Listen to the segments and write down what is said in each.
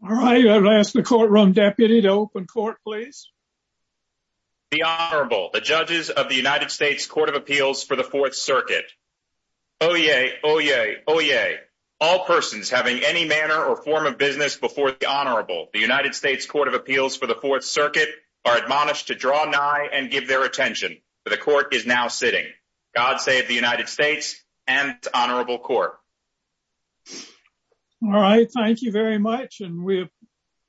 The Honorable, the Judges of the United States Court of Appeals for the Fourth Circuit. Oyez! Oyez! Oyez! All persons having any manner or form of business before the Honorable, the United States Court of Appeals for the Fourth Circuit, are admonished to draw nigh and give their attention, for the Court is now sitting. God save the United States and the Honorable Court. All right. Thank you very much. And we're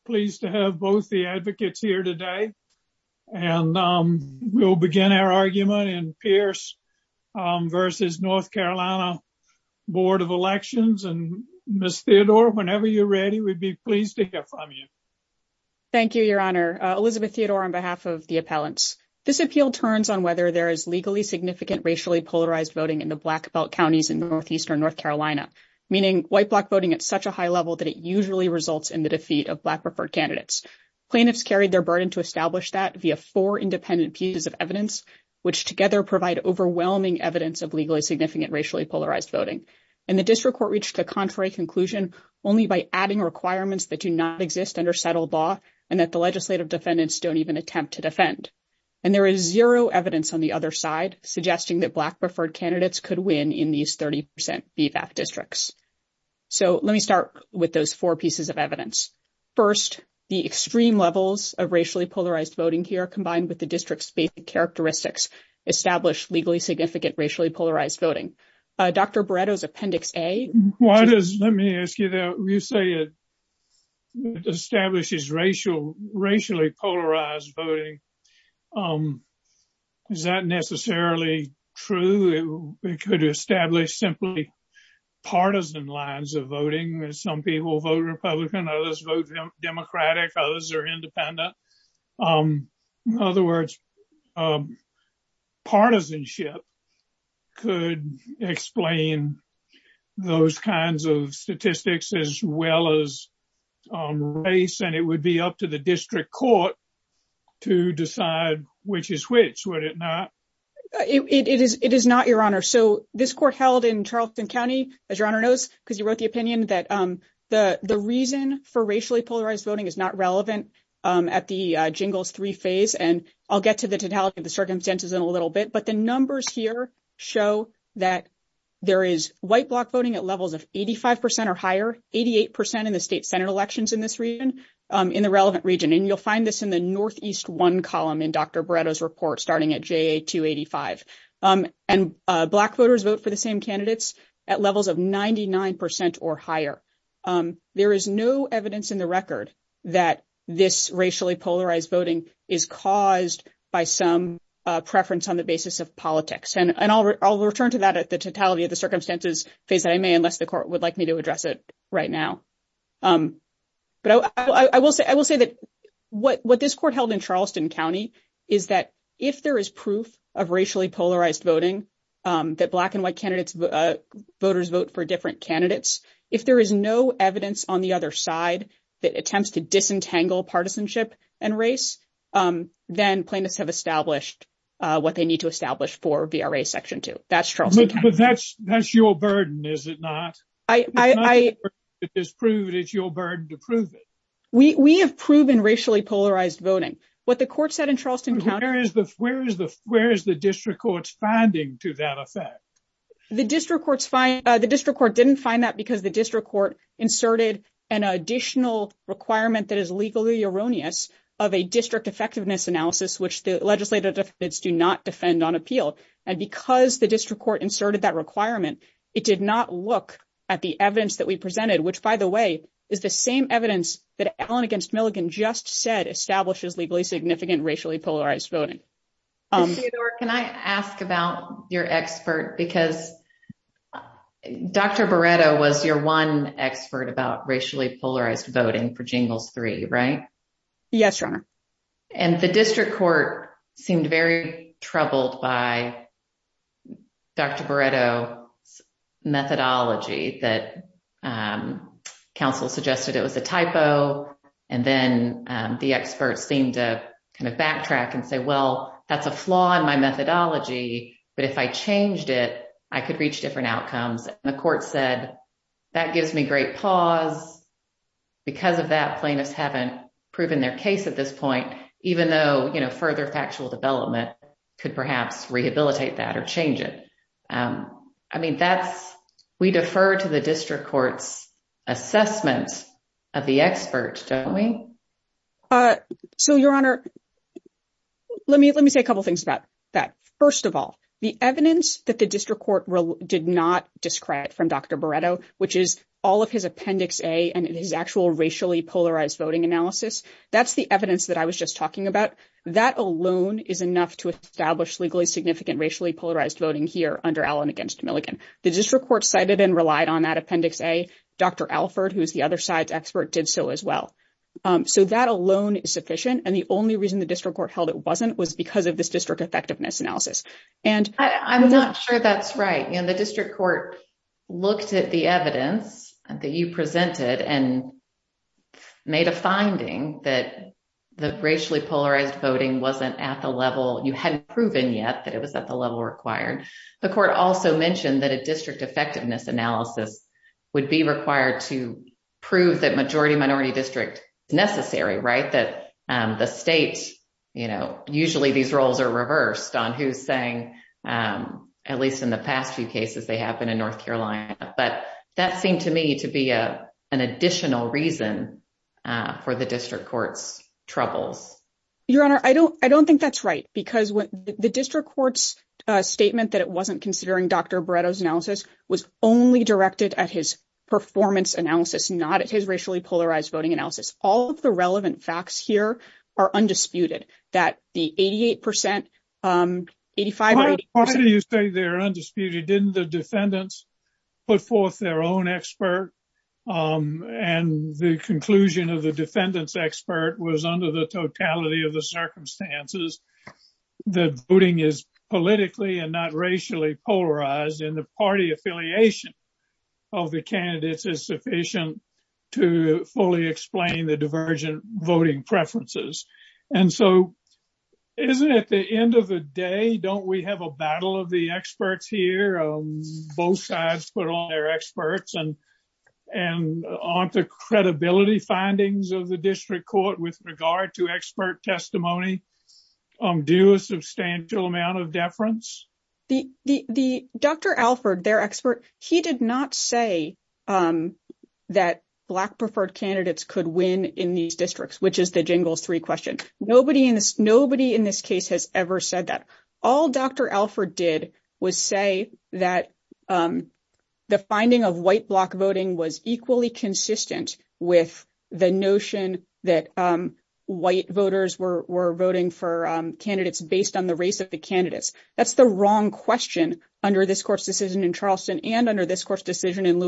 pleased to have both the advocates here today. And we'll begin our argument in Pierce v. North Carolina Board of Elections. And Ms. Theodore, whenever you're ready, we'd be pleased to hear from you. Thank you, Your Honor. Elizabeth Theodore on behalf of the appellants. This appeal turns on whether there is legally significant racially polarized voting in the black belt counties in Northeastern North Carolina. Meaning white black voting at such a high level that it usually results in the defeat of black preferred candidates. Plaintiffs carried their burden to establish that via four independent pieces of evidence, which together provide overwhelming evidence of legally significant racially polarized voting. And the district court reached a contrary conclusion only by adding requirements that do not exist under settled law and that the legislative defendants don't even attempt to defend. And there is zero evidence on the other side, suggesting that black preferred candidates could win in these 30% districts. So let me start with those four pieces of evidence. First, the extreme levels of racially polarized voting here, combined with the district's characteristics, establish legally significant racially polarized voting. Dr. Breda's Appendix A. Why does, let me ask you that. You say it establishes racially polarized voting. Is that necessarily true? It could establish simply partisan lines of voting. Some people vote Republican, others vote Democratic, others are independent. In other words, partisanship could explain those kinds of statistics as well as race, and it would be up to the district court to decide which is which, would it not? It is not, Your Honor. So this court held in Charleston County, as Your Honor knows, because you wrote the opinion, that the reason for racially polarized voting is not relevant at the Jingles III phase. And I'll get to the totality of the circumstances in a little bit, but the numbers here show that there is white block voting at levels of 85% or higher, 88% in the state Senate elections in this region, in the relevant region. And you'll find this in the Northeast I column in Dr. Breda's report, starting at JA 285. And black voters vote for the same candidates at levels of 99% or higher. There is no evidence in the record that this racially polarized voting is caused by some preference on the basis of politics. And I'll return to that at the totality of the circumstances phase, unless the court would like me to address it right now. But I will say that what this court held in Charleston County is that if there is proof of racially polarized voting, that black and white voters vote for different candidates, if there is no evidence on the other side that attempts to disentangle partisanship and race, then plaintiffs have established what they need to establish for VRA Section 2. That's Charleston County. But that's your burden, is it not? It's not your burden to prove it, it's your burden to prove it. We have proven racially polarized voting. What the court said in Charleston County- Where is the district court's finding to that effect? The district court didn't find that because the district court inserted an additional requirement that is legally erroneous of a district effectiveness analysis, which the legislative deficits do not defend on appeal. And because the district court inserted that requirement, it did not look at the evidence that we presented, which, by the way, is the same evidence that Allen v. Milligan just said establishes legally significant racially polarized voting. Theodore, can I ask about your expert? Because Dr. Barreto was your one expert about racially polarized voting for Jingle 3, right? And the district court seemed very troubled by Dr. Barreto's methodology that counsel suggested it was a typo. And then the expert seemed to kind of backtrack and say, well, that's a flaw in my methodology, but if I changed it, I could reach different outcomes. And the court said, that gives me great pause. Because of that, plaintiffs haven't proven their case at this point, even though further factual development could perhaps rehabilitate that or change it. I mean, we defer to the district court's assessment of the expert, don't we? So, Your Honor, let me say a couple things about that. First of all, the evidence that the district court did not describe from Dr. Barreto, which is all of his Appendix A and his actual racially polarized voting analysis. That's the evidence that I was just talking about. That alone is enough to establish legally significant racially polarized voting here under Allen against Milligan. The district court cited and relied on that Appendix A. Dr. Alford, who's the other side's expert, did so as well. So, that alone is sufficient. And the only reason the district court held it wasn't was because of this district effectiveness analysis. And I'm not sure that's right. And the district court looked at the evidence that you presented and made a finding that the racially polarized voting wasn't at the level you hadn't proven yet that it was at the level required. The court also mentioned that a district effectiveness analysis would be required to prove that majority-minority district necessary, right? That the states, you know, usually these roles are reversed on who's saying, at least in the past few cases, they have been in North Carolina. But that seemed to me to be an additional reason for the district court's trouble. Your Honor, I don't think that's right, because the district court's statement that it wasn't considering Dr. Beretta's analysis was only directed at his performance analysis, not his racially polarized voting analysis. All of the relevant facts here are undisputed that the 88%, 85%- The voting is politically and not racially polarized, and the party affiliation of the candidates is sufficient to fully explain the divergent voting preferences. And so, at the end of the day, don't we have a battle of the experts here? Both sides put on their experts and onto credibility findings of the district court with regard to expert testimony, due a substantial amount of deference? The Dr. Alford, their expert, he did not say that black-preferred candidates could win in these districts, which is the jingles three question. Nobody in this case has ever said that. All Dr. Alford did was say that the finding of white-block voting was equally consistent with the notion that white voters were voting for candidates based on the race of the candidates. That's the wrong question under this court's decision in Charleston and under this court's decision in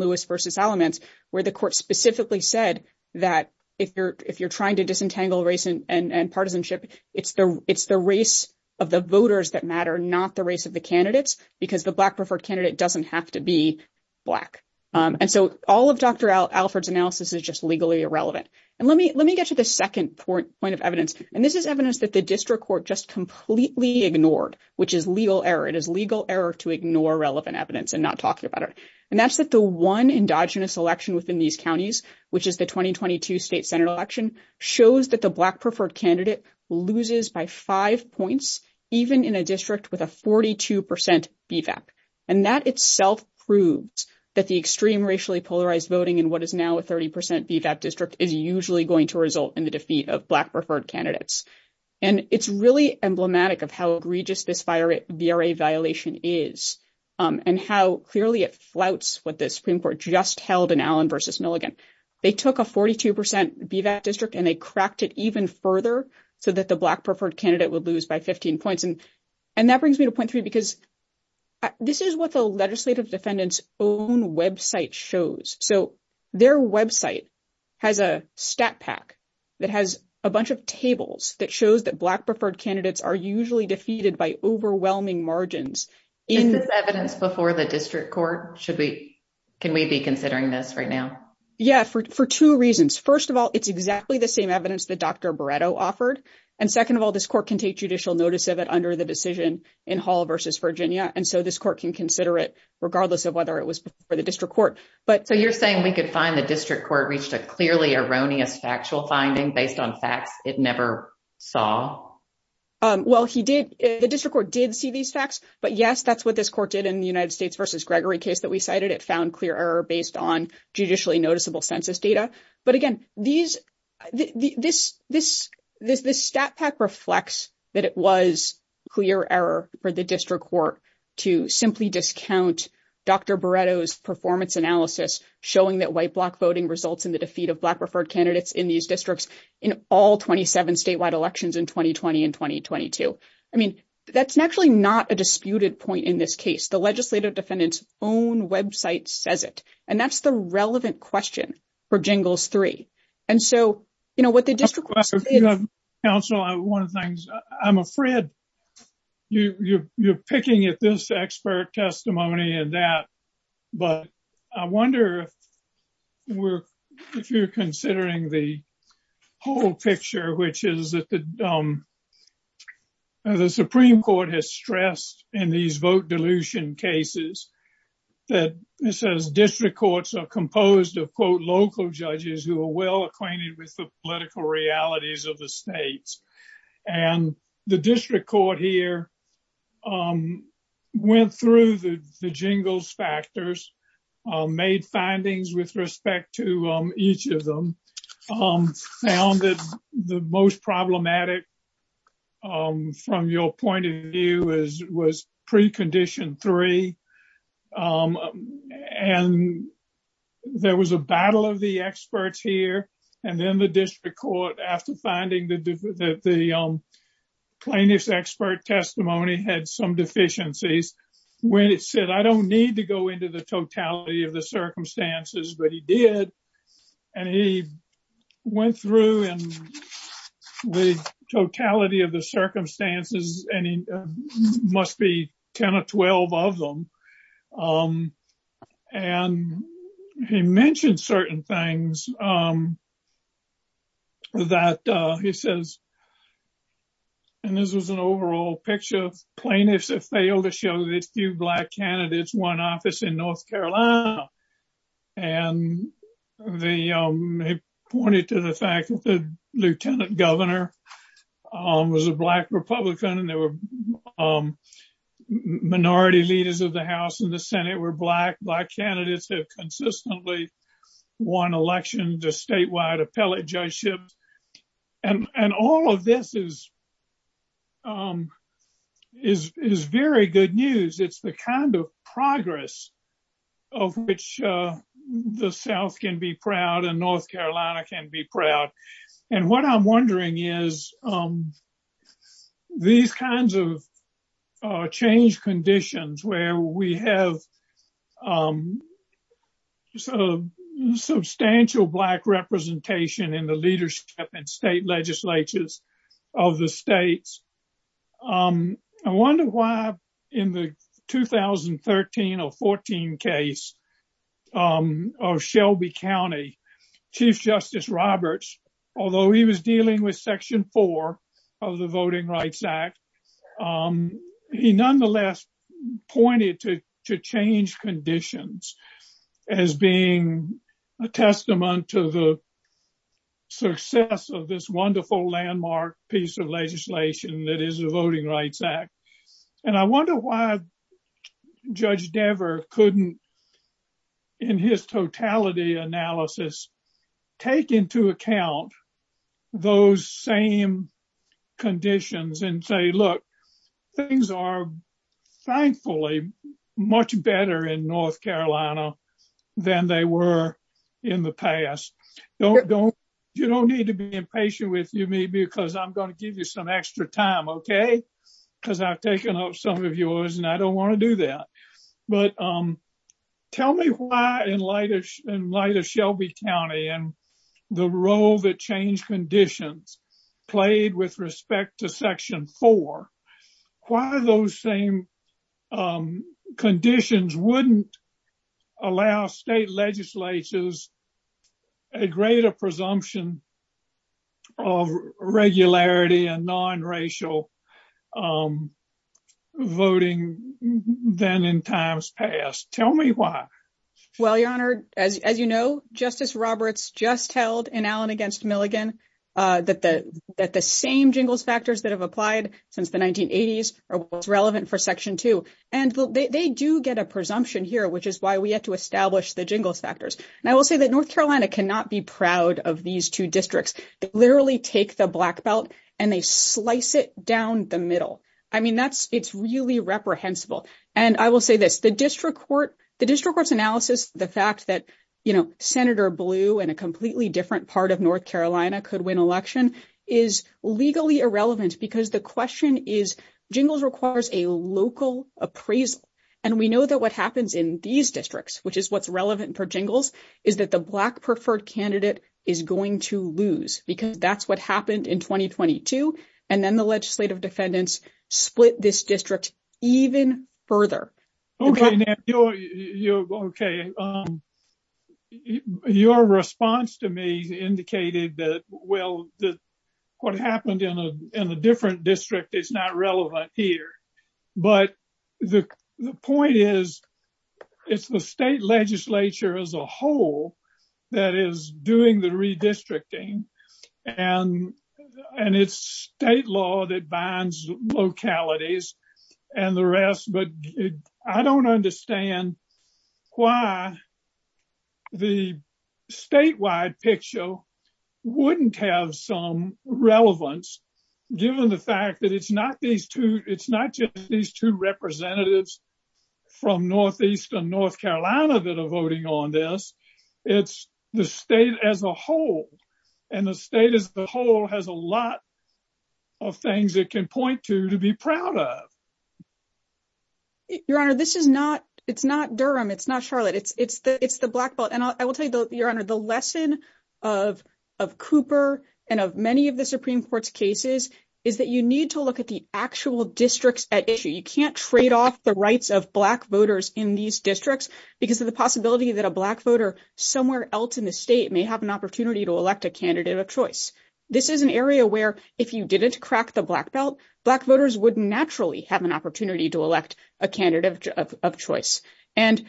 Lewis v. Alamance, where the court specifically said that if you're trying to disentangle race and partisanship, it's the race of the voters that matter, not the race of the candidates, because the black-preferred candidate doesn't have to be black. And so, all of Dr. Alford's analysis is just legally irrelevant. And let me get to the second point of evidence, and this is evidence that the district court just completely ignored, which is legal error. It is legal error to ignore relevant evidence and not talk about it. And that's that the one endogenous election within these counties, which is the 2022 state senate election, shows that the black-preferred candidate loses by five points, even in a district with a 42% defect. And that itself proves that the extreme racially polarized voting in what is now a 30% defect district is usually going to result in the defeat of black-preferred candidates. And it's really emblematic of how egregious this VRA violation is and how clearly it flouts what the Supreme Court just held in Allen v. Mulligan. They took a 42% defect district and they cracked it even further so that the black-preferred candidate would lose by 15 points. And that brings me to point three, because this is what the legislative defendant's own website shows. So, their website has a stat pack that has a bunch of tables that shows that black-preferred candidates are usually defeated by overwhelming margins. Is this evidence before the district court? Can we be considering this right now? Yeah, for two reasons. First of all, it's exactly the same evidence that Dr. Barreto offered. And second of all, this court can take judicial notice of it under the decision in Hall v. Virginia. And so, this court can consider it regardless of whether it was for the district court. So, you're saying we could find the district court reached a clearly erroneous factual finding based on facts it never saw? Well, the district court did see these facts, but yes, that's what this court did in the United States v. Gregory case that we cited. It found clear error based on judicially noticeable census data. But again, this stat pack reflects that it was clear error for the district court to simply discount Dr. Barreto's performance analysis showing that white-block voting results in the defeat of black-preferred candidates in these districts in all 27 statewide elections in 2020 and 2022. I mean, that's naturally not a disputed point in this case. The legislative defendant's own website says it. And that's the relevant question for Jingles 3. I'm afraid you're picking at this expert testimony and that, but I wonder if you're considering the whole picture, which is that the Supreme Court has stressed in these vote dilution cases, that district courts are composed of, quote, local judges who are well acquainted with the political realities of the states. And the district court here went through the Jingles factors, made findings with respect to each of them, found that the most problematic from your point of view was precondition 3. And there was a battle of the experts here. And then the district court, after finding that the plaintiff's expert testimony had some deficiencies, went and said, I don't need to go into the totality of the circumstances, but he did. And he went through the totality of the circumstances, and it must be 10 or 12 of them. And he mentioned certain things that he says, and this is an overall picture. Plaintiffs have failed to show that few Black candidates won office in North Carolina. And they pointed to the fact that the lieutenant governor was a Black Republican, and there were minority leaders of the House and the Senate were Black. Black candidates have consistently won election to statewide appellate judgeships. And all of this is very good news. It's the kind of progress of which the South can be proud and North Carolina can be proud. And what I'm wondering is these kinds of change conditions where we have substantial Black representation in the leadership and state legislatures of the states. I wonder why in the 2013 or 14 case of Shelby County, Chief Justice Roberts, although he was dealing with Section 4 of the Voting Rights Act, he nonetheless pointed to change conditions as being a testament to the success of this wonderful landmark piece of legislation that is the Voting Rights Act. And I wonder why Judge Dever couldn't, in his totality analysis, take into account those same conditions and say, look, things are thankfully much better in North Carolina than they were in the past. You don't need to be impatient with me because I'm going to give you some extra time, okay? Because I've taken up some of yours and I don't want to do that. But tell me why in light of Shelby County and the role that change conditions played with respect to Section 4, why those same conditions wouldn't allow state legislatures a greater presumption of regularity and non-racial voting than in times past? Tell me why. Well, Your Honor, as you know, Justice Roberts just held in Allen v. Milligan that the same jingle factors that have applied since the 1980s are what's relevant for Section 2. And they do get a presumption here, which is why we have to establish the jingle factors. And I will say that North Carolina cannot be proud of these two districts. They literally take the black belt and they slice it down the middle. I mean, it's really reprehensible. And I will say this, the district court analysis, the fact that Senator Blue in a completely different part of North Carolina could win election is legally irrelevant because the question is, jingles requires a local appraisal. And we know that what happens in these districts, which is what's relevant for jingles, is that the black preferred candidate is going to lose because that's what happened in 2022. And then the legislative defendants split this district even further. Okay. Your response to me indicated that, well, what happened in a different district is not relevant here. But the point is, it's the state legislature as a whole that is doing the redistricting. And it's state law that binds localities and the rest. But I don't understand why the statewide picture wouldn't have some relevance, given the fact that it's not just these two representatives from Northeast and North Carolina that are voting on this. It's the state as a whole. And the state as a whole has a lot of things it can point to to be proud of. Your Honor, this is not, it's not Durham, it's not Charlotte, it's the black belt. And I will tell you, Your Honor, the lesson of Cooper and of many of the Supreme Court's cases is that you need to look at the actual districts at issue. You can't trade off the rights of black voters in these districts because of the possibility that a black voter somewhere else in the state may have an opportunity to elect a candidate of choice. This is an area where if you didn't crack the black belt, black voters would naturally have an opportunity to elect a candidate of choice. And,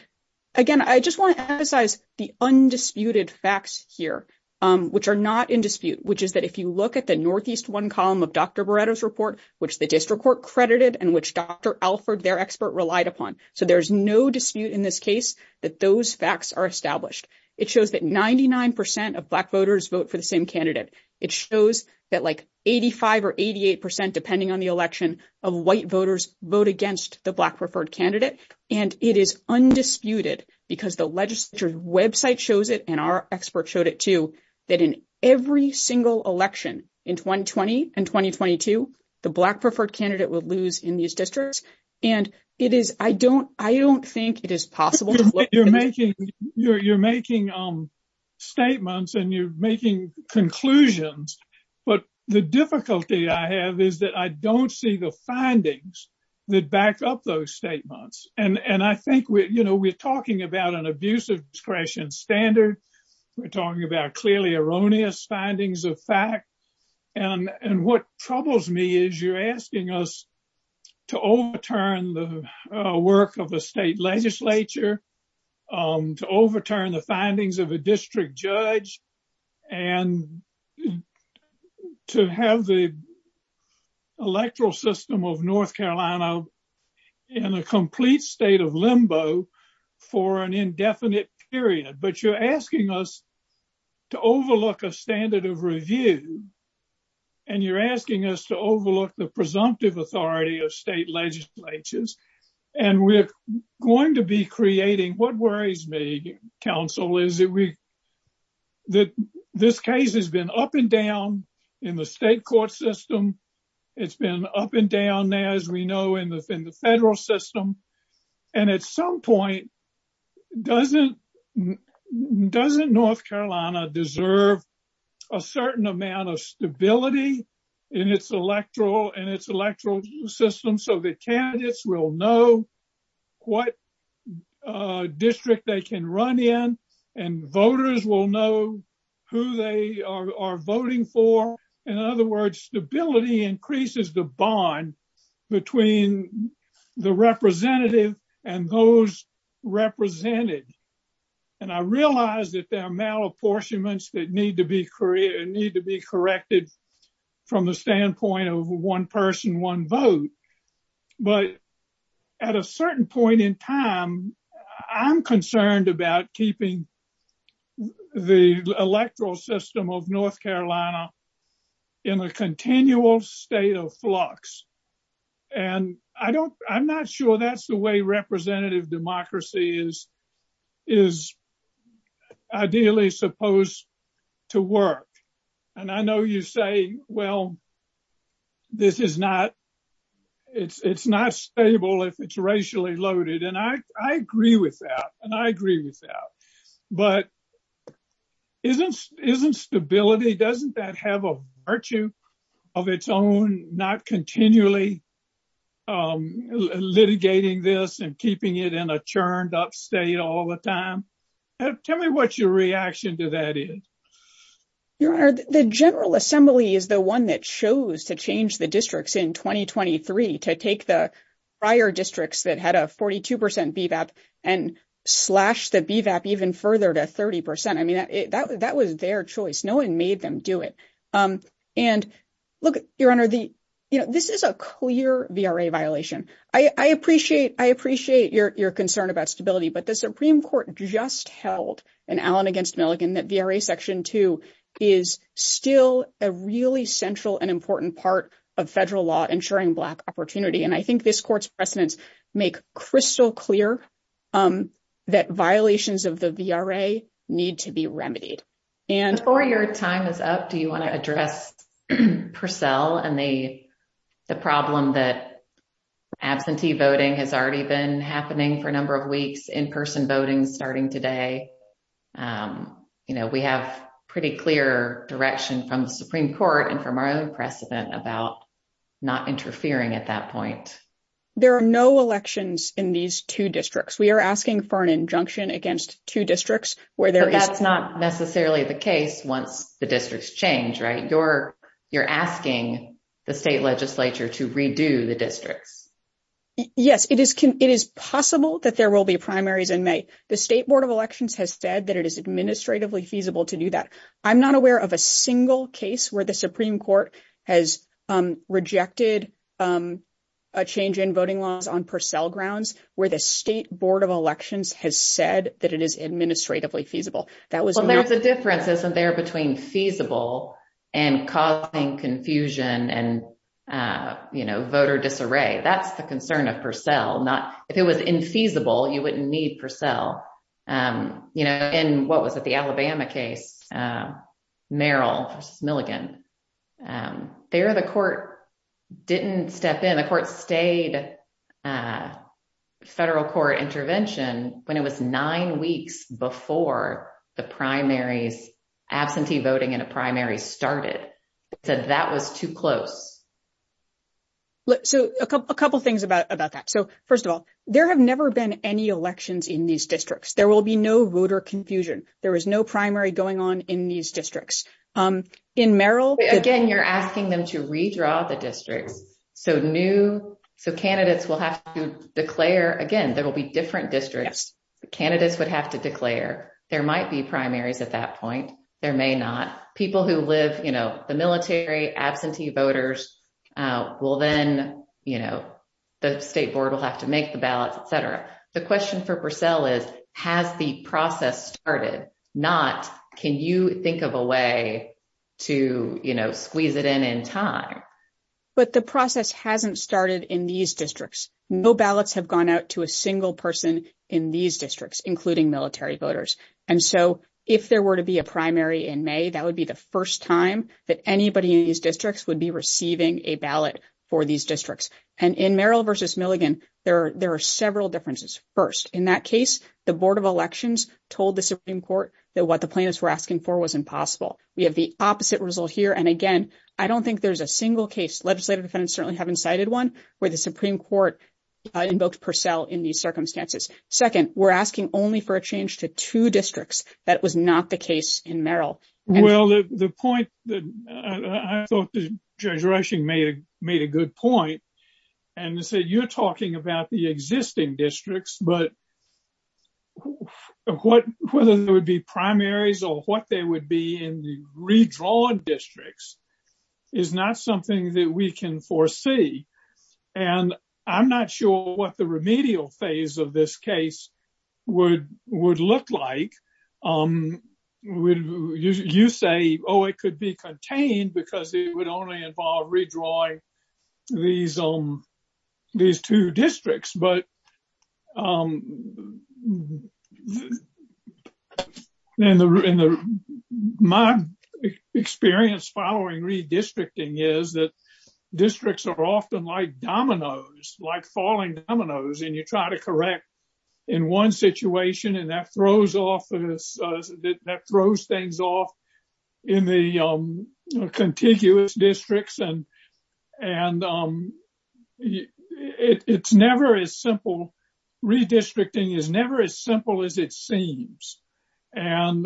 again, I just want to emphasize the undisputed facts here, which are not in dispute, which is that if you look at the Northeast one column of Dr. Beretta's report, which the district court credited and which Dr. Alford, their expert, relied upon. So there's no dispute in this case that those facts are established. It shows that 99% of black voters vote for the same candidate. It shows that like 85 or 88%, depending on the election, of white voters vote against the black preferred candidate. And it is undisputed because the legislature's website shows it, and our expert showed it too, that in every single election in 2020 and 2022, the black preferred candidate would lose in these districts. And I don't think it is possible. You're making statements and you're making conclusions. But the difficulty I have is that I don't see the findings that back up those statements. And I think we're talking about an abuse of discretion standard. We're talking about clearly erroneous findings of fact. And what troubles me is you're asking us to overturn the work of the state legislature, to overturn the findings of a district judge, and to have the electoral system of North Carolina in a complete state of limbo for an indefinite period. But you're asking us to overlook a standard of review. And you're asking us to overlook the presumptive authority of state legislatures. And we're going to be creating what worries me, counsel, is that this case has been up and down in the state court system. It's been up and down there, as we know, in the federal system. And at some point, doesn't North Carolina deserve a certain amount of stability in its electoral system so that candidates will know what district they can run in and voters will know who they are voting for? In other words, stability increases the bond between the representative and those represented. And I realize that there are malapportionments that need to be corrected from the standpoint of one person, one vote. But at a certain point in time, I'm concerned about keeping the electoral system of North Carolina in a continual state of flux. And I'm not sure that's the way representative democracy is ideally supposed to work. And I know you say, well, this is not, it's not stable if it's racially loaded. And I agree with that. And I agree with that. But isn't stability, doesn't that have a virtue of its own, not continually litigating this and keeping it in a turned up state all the time? Tell me what your reaction to that is. Your Honor, the General Assembly is the one that chose to change the districts in 2023 to take the prior districts that had a 42 percent BVAP and slash the BVAP even further to 30 percent. I mean, that was their choice. No one made them do it. And look, Your Honor, this is a clear VRA violation. I appreciate I appreciate your concern about stability, but the Supreme Court just held in Allen against Milligan that VRA Section 2 is still a really central and important part of federal law ensuring black opportunity. And I think this court's precedents make crystal clear that violations of the VRA need to be remedied. Before your time is up, do you want to address Purcell and the problem that absentee voting has already been happening for a number of weeks, in person voting starting today? You know, we have pretty clear direction from the Supreme Court and from our own precedent about not interfering at that point. There are no elections in these 2 districts. We are asking for an injunction against 2 districts. That's not necessarily the case once the districts change, right? You're asking the state legislature to redo the districts. Yes, it is. It is possible that there will be primaries in May. The State Board of Elections has said that it is administratively feasible to do that. I'm not aware of a single case where the Supreme Court has rejected a change in voting laws on Purcell grounds where the State Board of Elections has said that it is administratively feasible. Well, there's a difference isn't there between feasible and causing confusion and voter disarray. That's the concern of Purcell. If it was infeasible, you wouldn't need Purcell. In what was the Alabama case, Merrill Milligan, there the court didn't step in. The court stayed federal court intervention when it was 9 weeks before the primaries, absentee voting in a primary started. So, a couple things about that. So, first of all, there have never been any elections in these districts. There will be no voter confusion. There is no primary going on in these districts. In Merrill, again, you're asking them to redraw the district. So new candidates will have to declare again. There will be different districts. Candidates would have to declare. There might be primaries at that point. There may not. People who live, you know, the military, absentee voters will then, you know, the state board will have to make the ballot, etc. The question for Purcell is, has the process started? Not, can you think of a way to squeeze it in in time? But the process hasn't started in these districts. No ballots have gone out to a single person in these districts, including military voters. And so, if there were to be a primary in May, that would be the first time that anybody in these districts would be receiving a ballot for these districts. And in Merrill versus Milligan, there are several differences. First, in that case, the Board of Elections told the Supreme Court that what the plaintiffs were asking for was impossible. We have the opposite result here. And again, I don't think there's a single case, legislative defendants certainly haven't cited one, where the Supreme Court invoked Purcell in these circumstances. Second, we're asking only for a change to two districts. That was not the case in Merrill. Well, the point that I thought Judge Rushing made a good point, and to say you're talking about the existing districts, but whether there would be primaries or what they would be in the redrawn districts is not something that we can foresee. And I'm not sure what the remedial phase of this case would look like. You say, oh, it could be contained because it would only involve redrawing these two districts. But my experience following redistricting is that districts are often like dominoes, like falling dominoes, and you try to correct in one situation, and that throws things off in the contiguous districts. And it's never as simple. Redistricting is never as simple as it seems. And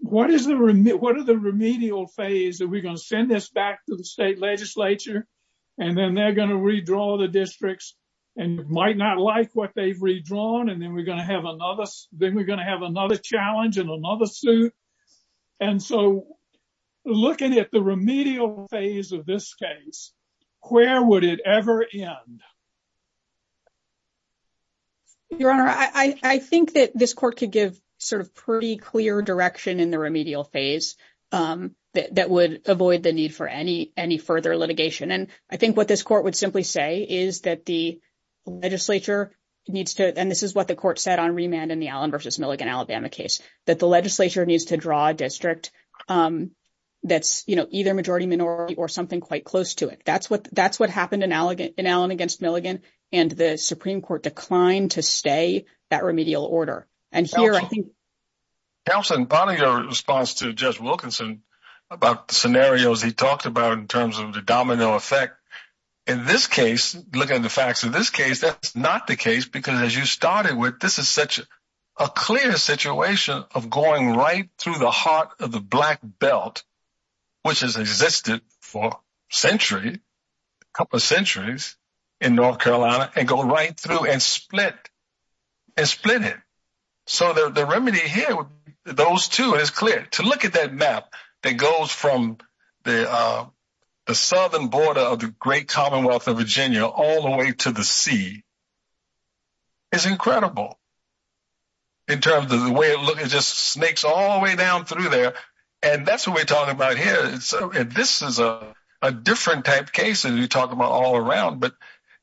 what is the remedial phase? Are we going to send this back to the state legislature, and then they're going to redraw the districts and might not like what they've redrawn? And then we're going to have another challenge and another suit? And so looking at the remedial phase of this case, where would it ever end? Your Honor, I think that this court could give sort of pretty clear direction in the remedial phase that would avoid the need for any further litigation. And I think what this court would simply say is that the legislature needs to, and this is what the court said on remand in the Allen v. Milligan Alabama case, that the legislature needs to draw a district that's either majority minority or something quite close to it. That's what happened in Allen v. Milligan, and the Supreme Court declined to stay that remedial order. Counselor, in part of your response to Judge Wilkinson about the scenarios he talked about in terms of the domino effect, in this case, looking at the facts of this case, that's not the case, because as you started with, this is such a clear situation of going right through the heart of the black belt, which has existed for centuries, a couple of centuries in North Carolina, and go right through and split it. So the remedy here with those two is clear. To look at that map that goes from the southern border of the great commonwealth of Virginia all the way to the sea is incredible in terms of the way it looks. It just snakes all the way down through there, and that's what we're talking about here. This is a different type case than you're talking about all around, but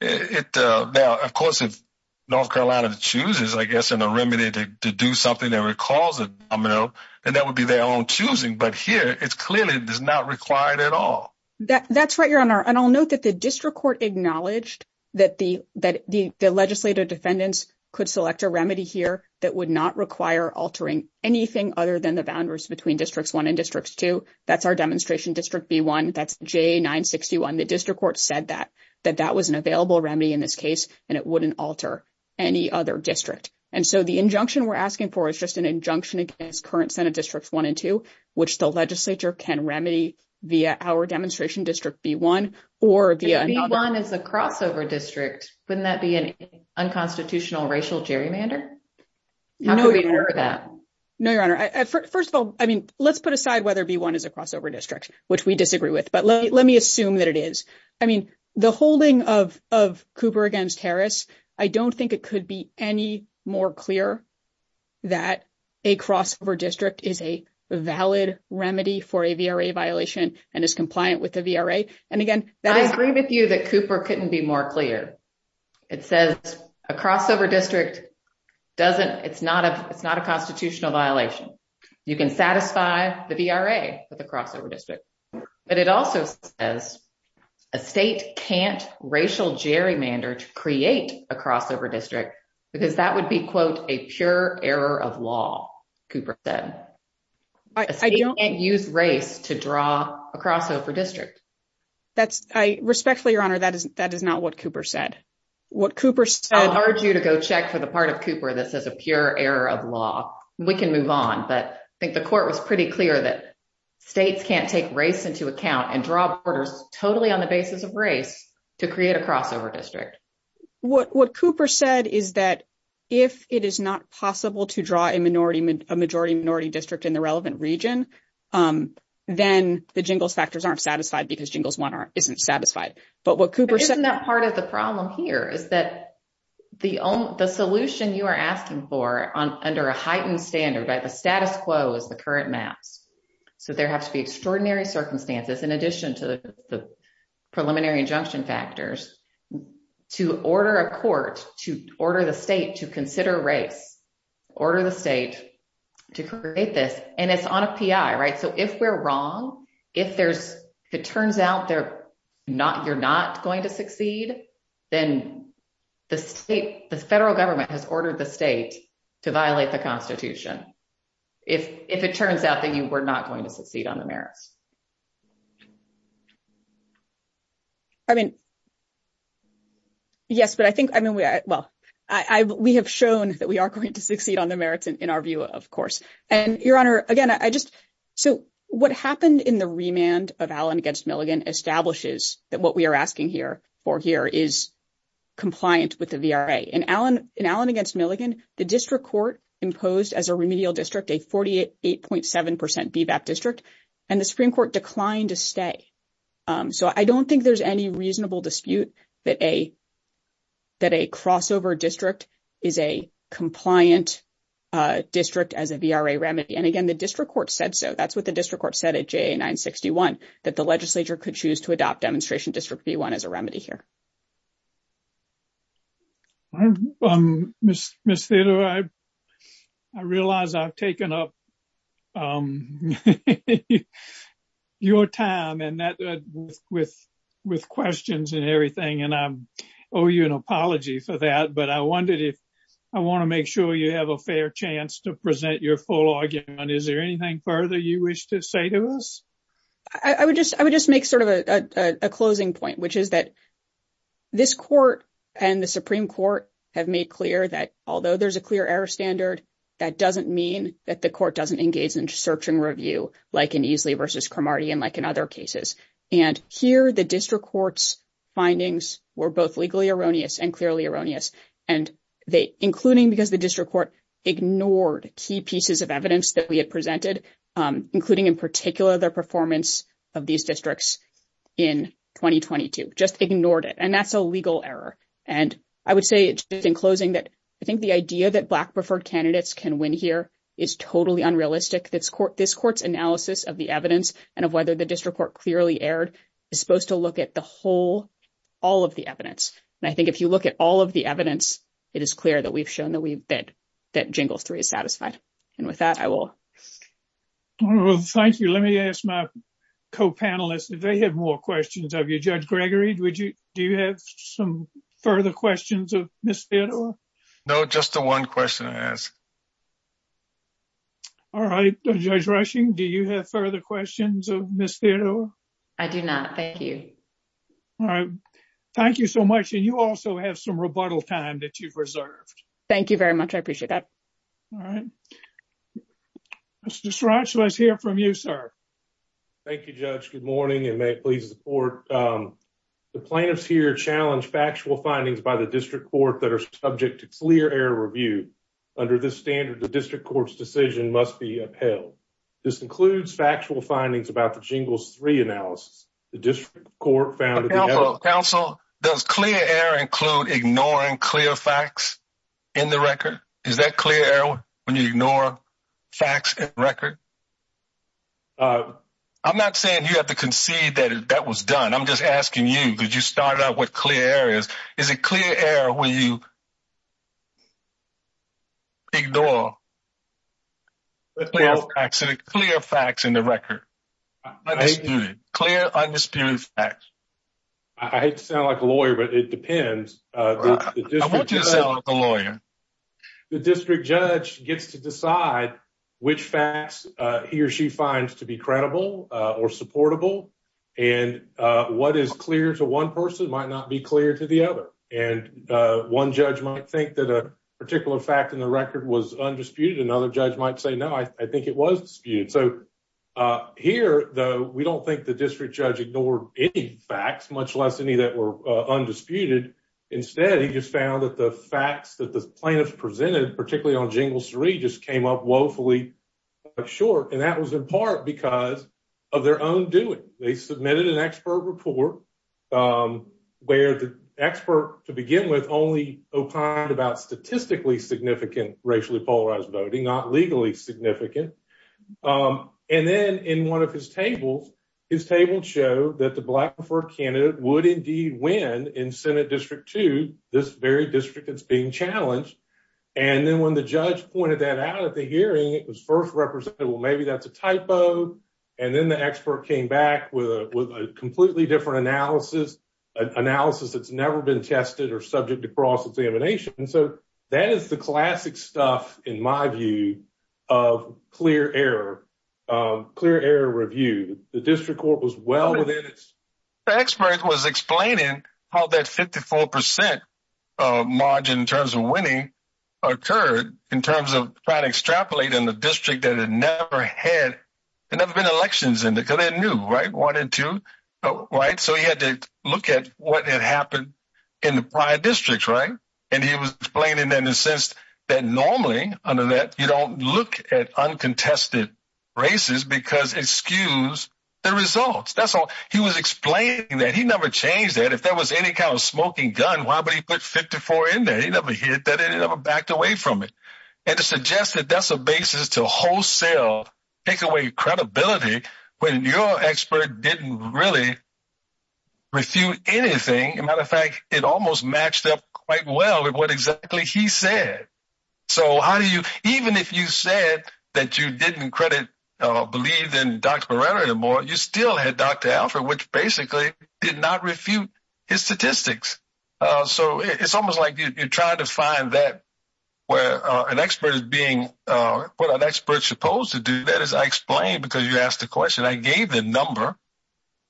of course, if North Carolina chooses, I guess, in a remedy to do something that recalls a domino, then that would be their own choosing. But here, it clearly does not require it at all. That's right, Your Honor, and I'll note that the district court acknowledged that the legislative defendants could select a remedy here that would not require altering anything other than the boundaries between Districts 1 and Districts 2. That's our demonstration District B1, that's J961. The district court said that, that that was an available remedy in this case, and it wouldn't alter any other district. And so the injunction we're asking for is just an injunction against current Senate Districts 1 and 2, which the legislature can remedy via our demonstration District B1. B1 is a crossover district. Wouldn't that be an unconstitutional racial gerrymander? No, Your Honor. First of all, I mean, let's put aside whether B1 is a crossover district, which we disagree with, but let me assume that it is. I mean, the holding of Cooper against Harris, I don't think it could be any more clear that a crossover district is a valid remedy for a VRA violation and is compliant with the VRA. And again, I agree with you that Cooper couldn't be more clear. It says a crossover district doesn't, it's not a, it's not a constitutional violation. You can satisfy the VRA with a crossover district. But it also says a state can't racial gerrymander to create a crossover district, because that would be, quote, a pure error of law, Cooper said. A state can't use race to draw a crossover district. Respectfully, Your Honor, that is not what Cooper said. I urge you to go check for the part of Cooper that says a pure error of law. We can move on. But I think the court was pretty clear that states can't take race into account and draw borders totally on the basis of race to create a crossover district. What Cooper said is that if it is not possible to draw a minority, a majority minority district in the relevant region, then the Jingles factors aren't satisfied because Jingles 1 isn't satisfied. But what Cooper said. Isn't that part of the problem here is that the solution you are asking for under a heightened standard, that the status quo is the current map. So there have to be extraordinary circumstances in addition to the preliminary injunction factors to order a court to order the state to consider race, order the state to create this. And it's on a P. I. Right. So if we're wrong, if there's it turns out they're not you're not going to succeed, then the state, the federal government has ordered the state to violate the Constitution. If it turns out that you were not going to proceed on the merits. I mean, yes, but I think, I mean, well, I, we have shown that we are going to succeed on the merits in our view, of course, and your honor again, I just so what happened in the remand of Allen against Milligan establishes that what we are asking here for here is. Compliant with the in Allen in Allen against Milligan, the district court imposed as a remedial district, a 48.7% feedback district and the Supreme Court declined to stay. So, I don't think there's any reasonable dispute that a. That a crossover district is a compliant district as a remedy. And again, the district court said, so that's what the district court said at 961 that the legislature could choose to adopt demonstration district. The 1 is a remedy here. I realize I've taken up. Your time and that with with questions and everything, and I owe you an apology for that, but I wondered if I want to make sure you have a fair chance to present your full argument. Is there anything further you wish to say to us? I would just, I would just make sort of a closing point, which is that. This court and the Supreme Court have made clear that although there's a clear error standard, that doesn't mean that the court doesn't engage in search and review like, and easily versus and like, and other cases. And here, the district courts findings were both legally erroneous and clearly erroneous and they, including because the district court ignored key pieces of evidence that we had presented, including in particular their performance. Of these districts in 2022, just ignored it and that's a legal error. And I would say, in closing that I think the idea that black preferred candidates can win here is totally unrealistic. This court, this court's analysis of the evidence and of whether the district court clearly aired is supposed to look at the whole. All of the evidence, and I think if you look at all of the evidence, it is clear that we've shown that we've been. That jingle 3 is satisfied and with that, I will. Thank you. Let me ask my co panelists. If they have more questions of you, judge Gregory, would you do you have some further questions of this? No, just the 1 question I asked. All right, do you have further questions of this? I do now. Thank you. Thank you so much. And you also have some rebuttal time that you've reserved. Thank you very much. I appreciate that. All right, let's hear from you, sir. Thank you judge. Good morning and may it please the plan is here challenge factual findings by the district court that are subject to clear air review. Under this standard, the district court's decision must be upheld. This includes factual findings about the jingles 3 analysis. The district court found counsel does clear air include ignoring clear facts. In the record, is that clear? When you ignore facts record. I'm not saying you have to concede that that was done. I'm just asking you, because you started out with clear areas. Is it clear where you. Ignore. Clear facts in the record. Clear undisputed facts. I hate to sound like a lawyer, but it depends. The district judge gets to decide. Which fast he or she finds to be credible or supportable. And what is clear to 1 person might not be clear to the other. And 1 judge might think that a particular fact in the record was undisputed. Another judge might say, no, I think it was. So, here, though, we don't think the district judge ignored any facts, much less any that were undisputed. Instead, he just found that the facts that the plaintiff presented, particularly on jingles 3, just came up woefully. Short, and that was in part because of their own doing. They submitted an expert report. Where the expert to begin with only opined about statistically significant, racially polarized voting, not legally significant. And then in 1 of his table, his table show that the black for candidate would indeed win in Senate district to this very district. It's being challenged. And then when the judge pointed that out at the hearing, it was 1st represented. Well, maybe that's a typo. And then the expert came back with a completely different analysis analysis. It's never been tested or subject to cross examination. And so that is the classic stuff in my view of clear error. Review the district court was well. The expert was explaining how that 54% margin in terms of winning occurred in terms of trying to extrapolate in the district that had never had. And I've been elections and to go in new, right? Wanted to write. So, you had to look at what had happened in the district. Right? And he was explaining that in the sense that normally under that, you don't look at uncontested races because excuse the results. That's all he was explaining that he never changed it. If there was any kind of smoking gun, why would he put 54 in there? He never hit that. It never backed away from it. And to suggest that that's a basis to wholesale take away credibility. When your expert didn't really. If you anything, in fact, it almost matched up quite well with what exactly he said. So, how do you even if you said that you didn't credit believe in doctor anymore, you still had Dr. Alfred, which basically did not refute his statistics. So, it's almost like you're trying to find that where an expert is being put on experts supposed to do that. As I explained, because you asked the question, I gave the number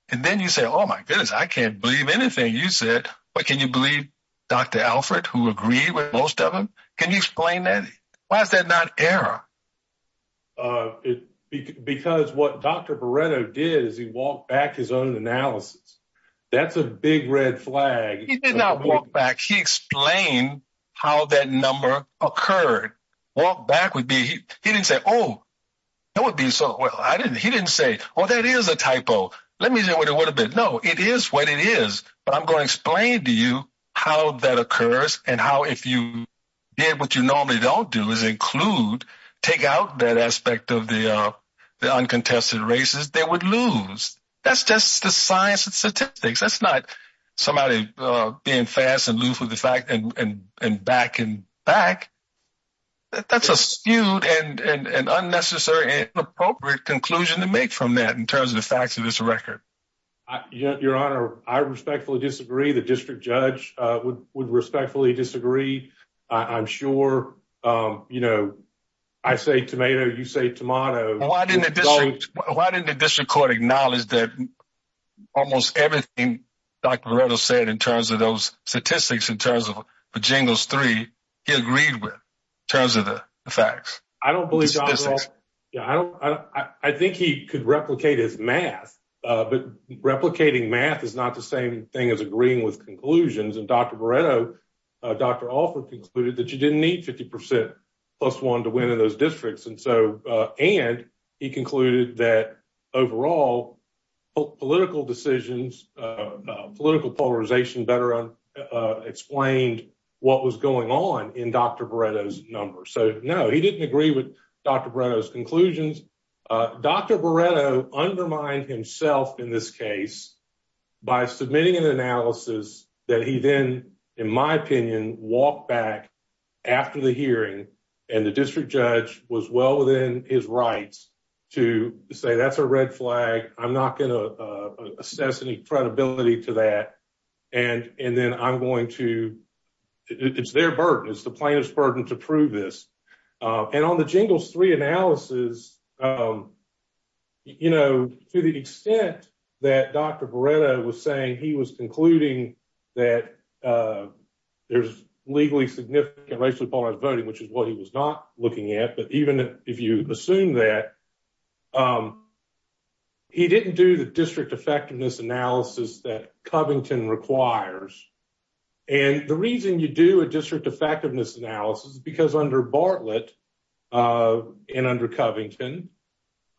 and then you say, oh, my goodness, I can't believe anything you said. But can you believe Dr. Alfred who agree with most of them? Can you explain that? Why is that not error? Because what Dr. Barreto did is he walked back his own analysis. That's a big red flag. He did not walk back. He explained how that number occurred. Walk back would be he didn't say, oh, that would be so. I didn't. He didn't say, oh, that is a typo. Let me know what it would have been. No, it is what it is. But I'm going to explain to you how that occurs and how if you did what you normally don't do is include, take out that aspect of the uncontested races, they would lose. That's just the science and statistics. That's not somebody being fast and loose with the fact and back and back. That's a skewed and unnecessary and appropriate conclusion to make from that in terms of the facts of this record. Your honor, I respectfully disagree. The district judge would respectfully disagree. I'm sure, you know, I say tomato. You say tomato. Why didn't the district court acknowledge that almost everything Dr. Barreto said in terms of those statistics, in terms of the jingles three, he agreed with in terms of the facts. I don't believe I don't. I think he could replicate his math, but replicating math is not the same thing as agreeing with conclusions. And Dr. Dr. Alfred concluded that you didn't need 50 percent plus one to win in those districts. And so and he concluded that overall political decisions, political polarization better explained what was going on in Dr. Barreto's number. So, no, he didn't agree with Dr. Barreto's conclusions. Dr. Barreto undermined himself in this case by submitting an analysis that he then, in my opinion, walked back after the hearing and the district judge was well within his rights to say, that's a red flag. I'm not going to assess any credibility to that. And and then I'm going to, it's their burden, it's the plaintiff's burden to prove this. And on the jingles three analysis, you know, to the extent that Dr. Barreto was saying he was concluding that there's legally significant racial polarized voting, which is what he was not looking at. But even if you assume that. He didn't do the district effectiveness analysis that Covington requires. And the reason you do a district effectiveness analysis, because under Bartlett and under Covington,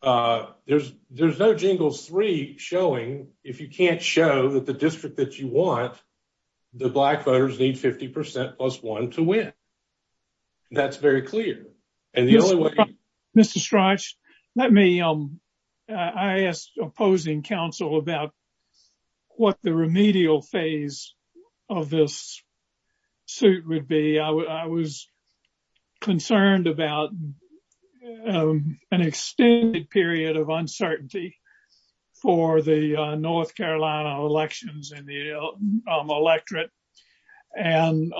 there's there's no jingles three showing if you can't show that the district that you want the black voters need 50 percent plus one to win. That's very clear. Mr. Strauch, let me, I asked opposing counsel about what the remedial phase of this suit would be. I was concerned about an extended period of uncertainty for the North Carolina elections and the electorate. And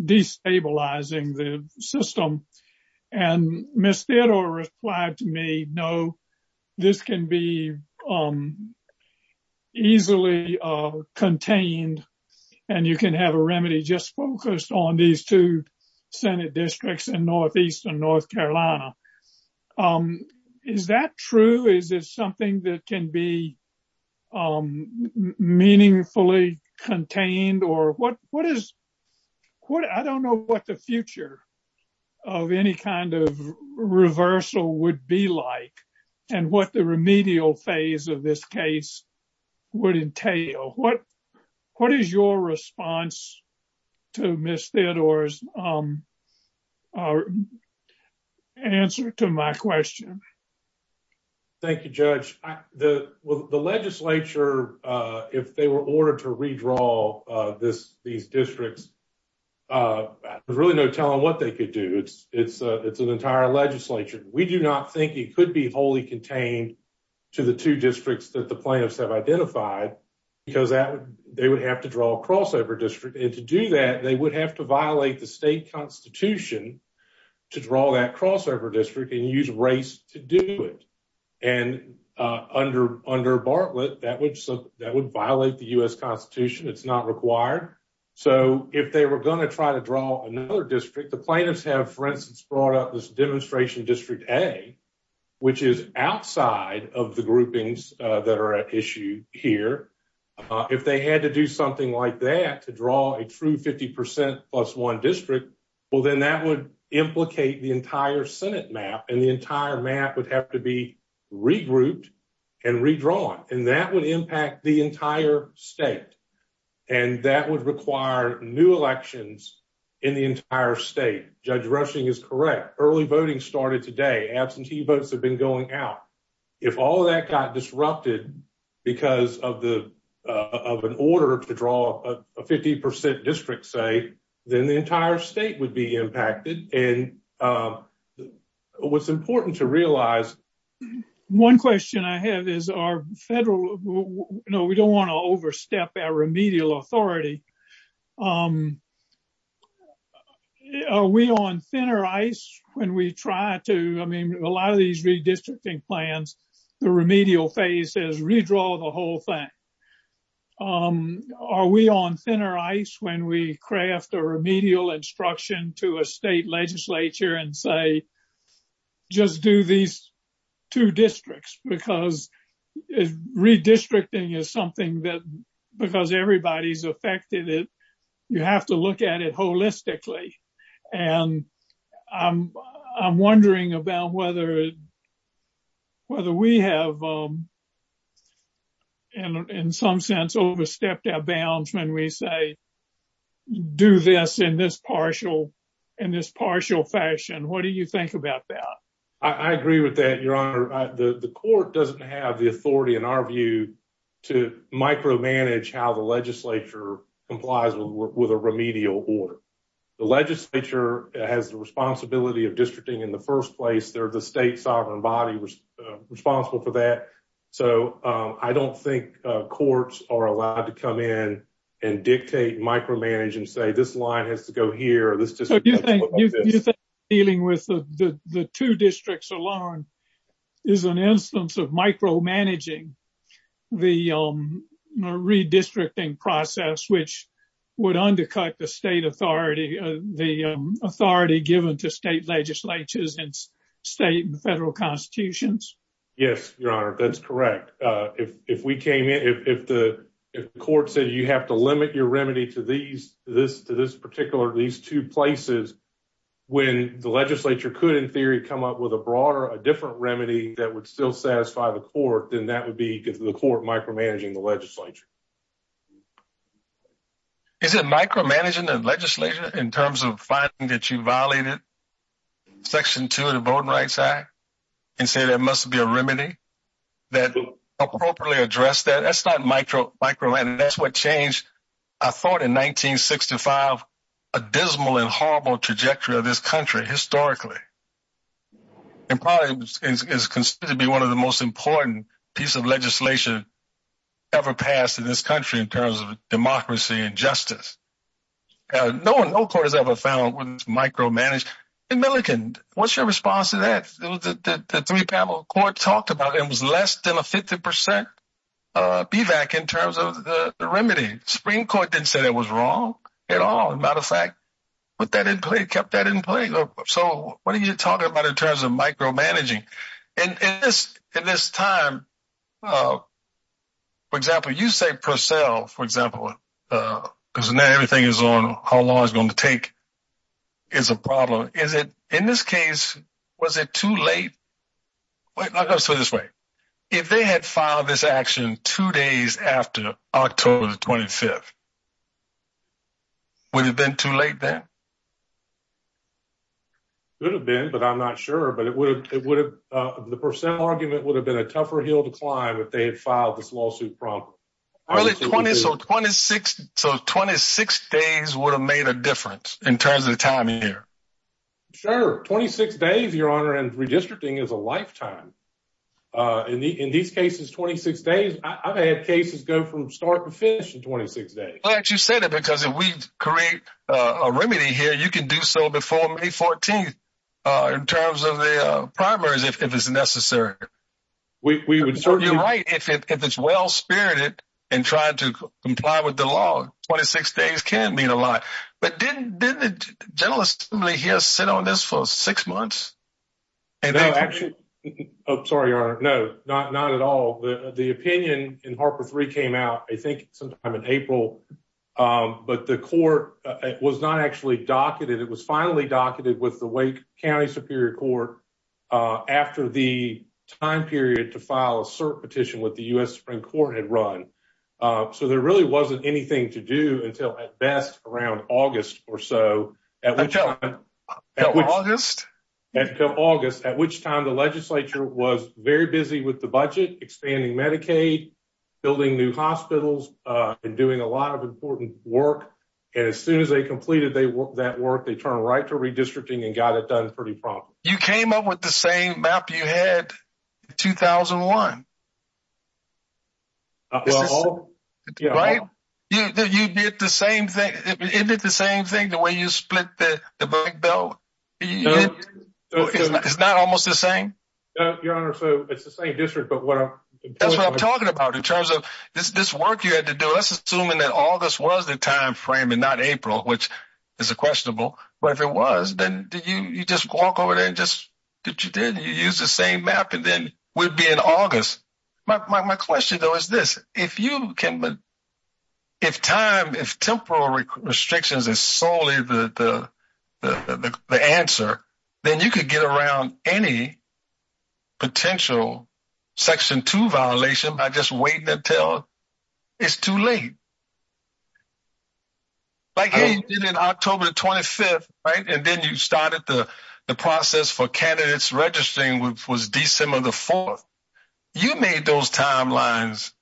destabilizing the system and missed it or replied to me. No, this can be easily contained and you can have a remedy. Just focus on these two Senate districts in Northeast and North Carolina. Is that true? Is it something that can be meaningfully contained or what? What is what? I don't know what the future of any kind of reversal would be like and what the remedial phase of this case would entail. What what is your response to miss theodore's answer to my question? Thank you, judge. The legislature, if they were ordered to redraw this, the districts really no telling what they could do. It's an entire legislature. We do not think he could be wholly contained to the two districts that the plaintiffs have identified because they would have to draw a crossover district. And to do that, they would have to violate the state constitution to draw that crossover district and use race to do it. And under under Bartlett, that would that would violate the US Constitution. It's not required. So, if they were going to try to draw another district, the plaintiffs have, for instance, brought up this demonstration district a. Which is outside of the groupings that are at issue here. If they had to do something like that to draw a true 50% plus 1 district, well, then that would implicate the entire Senate map and the entire map would have to be. Regroup and redraw and that would impact the entire state. And that would require new elections in the entire state. Judge rushing is correct. Early voting started today. Absentee votes have been going out. If all of that got disrupted because of the of an order to draw a 50% district say, then the entire state would be impacted and. What's important to realize 1 question I have is our federal. No, we don't want to overstep our remedial authority. Are we on thinner ice when we try to I mean, a lot of these redistricting plans, the remedial phase is redraw the whole thing. Are we on thinner ice when we craft a remedial instruction to a state legislature and say. Just do these 2 districts because redistricting is something that because everybody's affected it. You have to look at it holistically and I'm wondering about whether. Whether we have. And in some sense, overstepped our bounds when we say. Do this in this partial in this partial fashion? What do you think about that? I agree with that your honor the court doesn't have the authority in our view. To micro manage how the legislature complies with a remedial order. The legislature has the responsibility of districting in the 1st place. They're the state sovereign body responsible for that. So, I don't think courts are allowed to come in and dictate, micromanage and say, this line has to go here. This is dealing with the 2 districts alone. Is an instance of micro managing. The redistricting process, which would undercut the state authority, the authority given to state legislatures and state and federal constitutions. Yes, your honor. That's correct. If we came in, if the court said, you have to limit your remedy to these, this, this particular, these 2 places. When the legislature could, in theory, come up with a broader, a different remedy that would still satisfy the court, then that would be the court micromanaging the legislature. Is it micromanaging the legislature in terms of finding that you violated? Section 2 of the board rights act and say that must be a remedy. Appropriately address that. That's not micro micro. And that's what changed. I thought in 1965, a dismal and horrible trajectory of this country historically. It's considered to be 1 of the most important piece of legislation. Ever passed in this country in terms of democracy and justice. No, no quarters ever found was micromanaged. What's your response to that? The 3 panel court talked about it was less than a 50% feedback in terms of the remedy screen. Court didn't say that was wrong at all. Matter of fact, but that didn't play kept that in play. So what are you talking about in terms of micromanaging in this time? For example, you say for sale, for example, because now everything is on how long it's going to take is a problem. Is it in this case? Was it too late? Let's put it this way. If they had filed this action 2 days after October 25th. Would it have been too late then? It would have been, but I'm not sure, but it would have, it would have, the percent argument would have been a tougher hill to climb if they had filed this lawsuit from. So 26 days would have made a difference in terms of time here. Sure, 26 days, your honor, and redistricting is a lifetime. In these cases, 26 days, I've had cases go from start to finish in 26 days. You said it because if we create a remedy here, you can do so before May 14th in terms of the primaries, if it is necessary. We would certainly be right if it's well spirited and trying to comply with the law. 26 days can mean a lot, but didn't the general assembly here sit on this for 6 months? No, actually, sorry, your honor, no, not at all. The opinion in Harper 3 came out, I think sometime in April, but the court was not actually docketed. It was finally docketed with the Wake County Superior Court after the time period to file a cert petition with the U.S. Supreme Court had run. So there really wasn't anything to do until at best around August or so. Until August? Until August, at which time the legislature was very busy with the budget, expanding Medicaid, building new hospitals, and doing a lot of important work. And as soon as they completed that work, they turned right to redistricting and got it done pretty promptly. You came up with the same map you had in 2001. Right? You did the same thing. Isn't it the same thing, the way you split the bank bill? Isn't that almost the same? No, your honor, so it's the same district. That's what I'm talking about in terms of this work you had to do. Let's assume that August was the time frame and not April, which is questionable. But if it was, then you just walk over there and you use the same map and then it would be in August. My question, though, is this. If time, if temporal restrictions are solely the answer, then you could get around any potential Section 2 violation by just waiting until it's too late. Like you did in October 25th, right? And then you started the process for candidates registering, which was December the 4th. You made those timelines,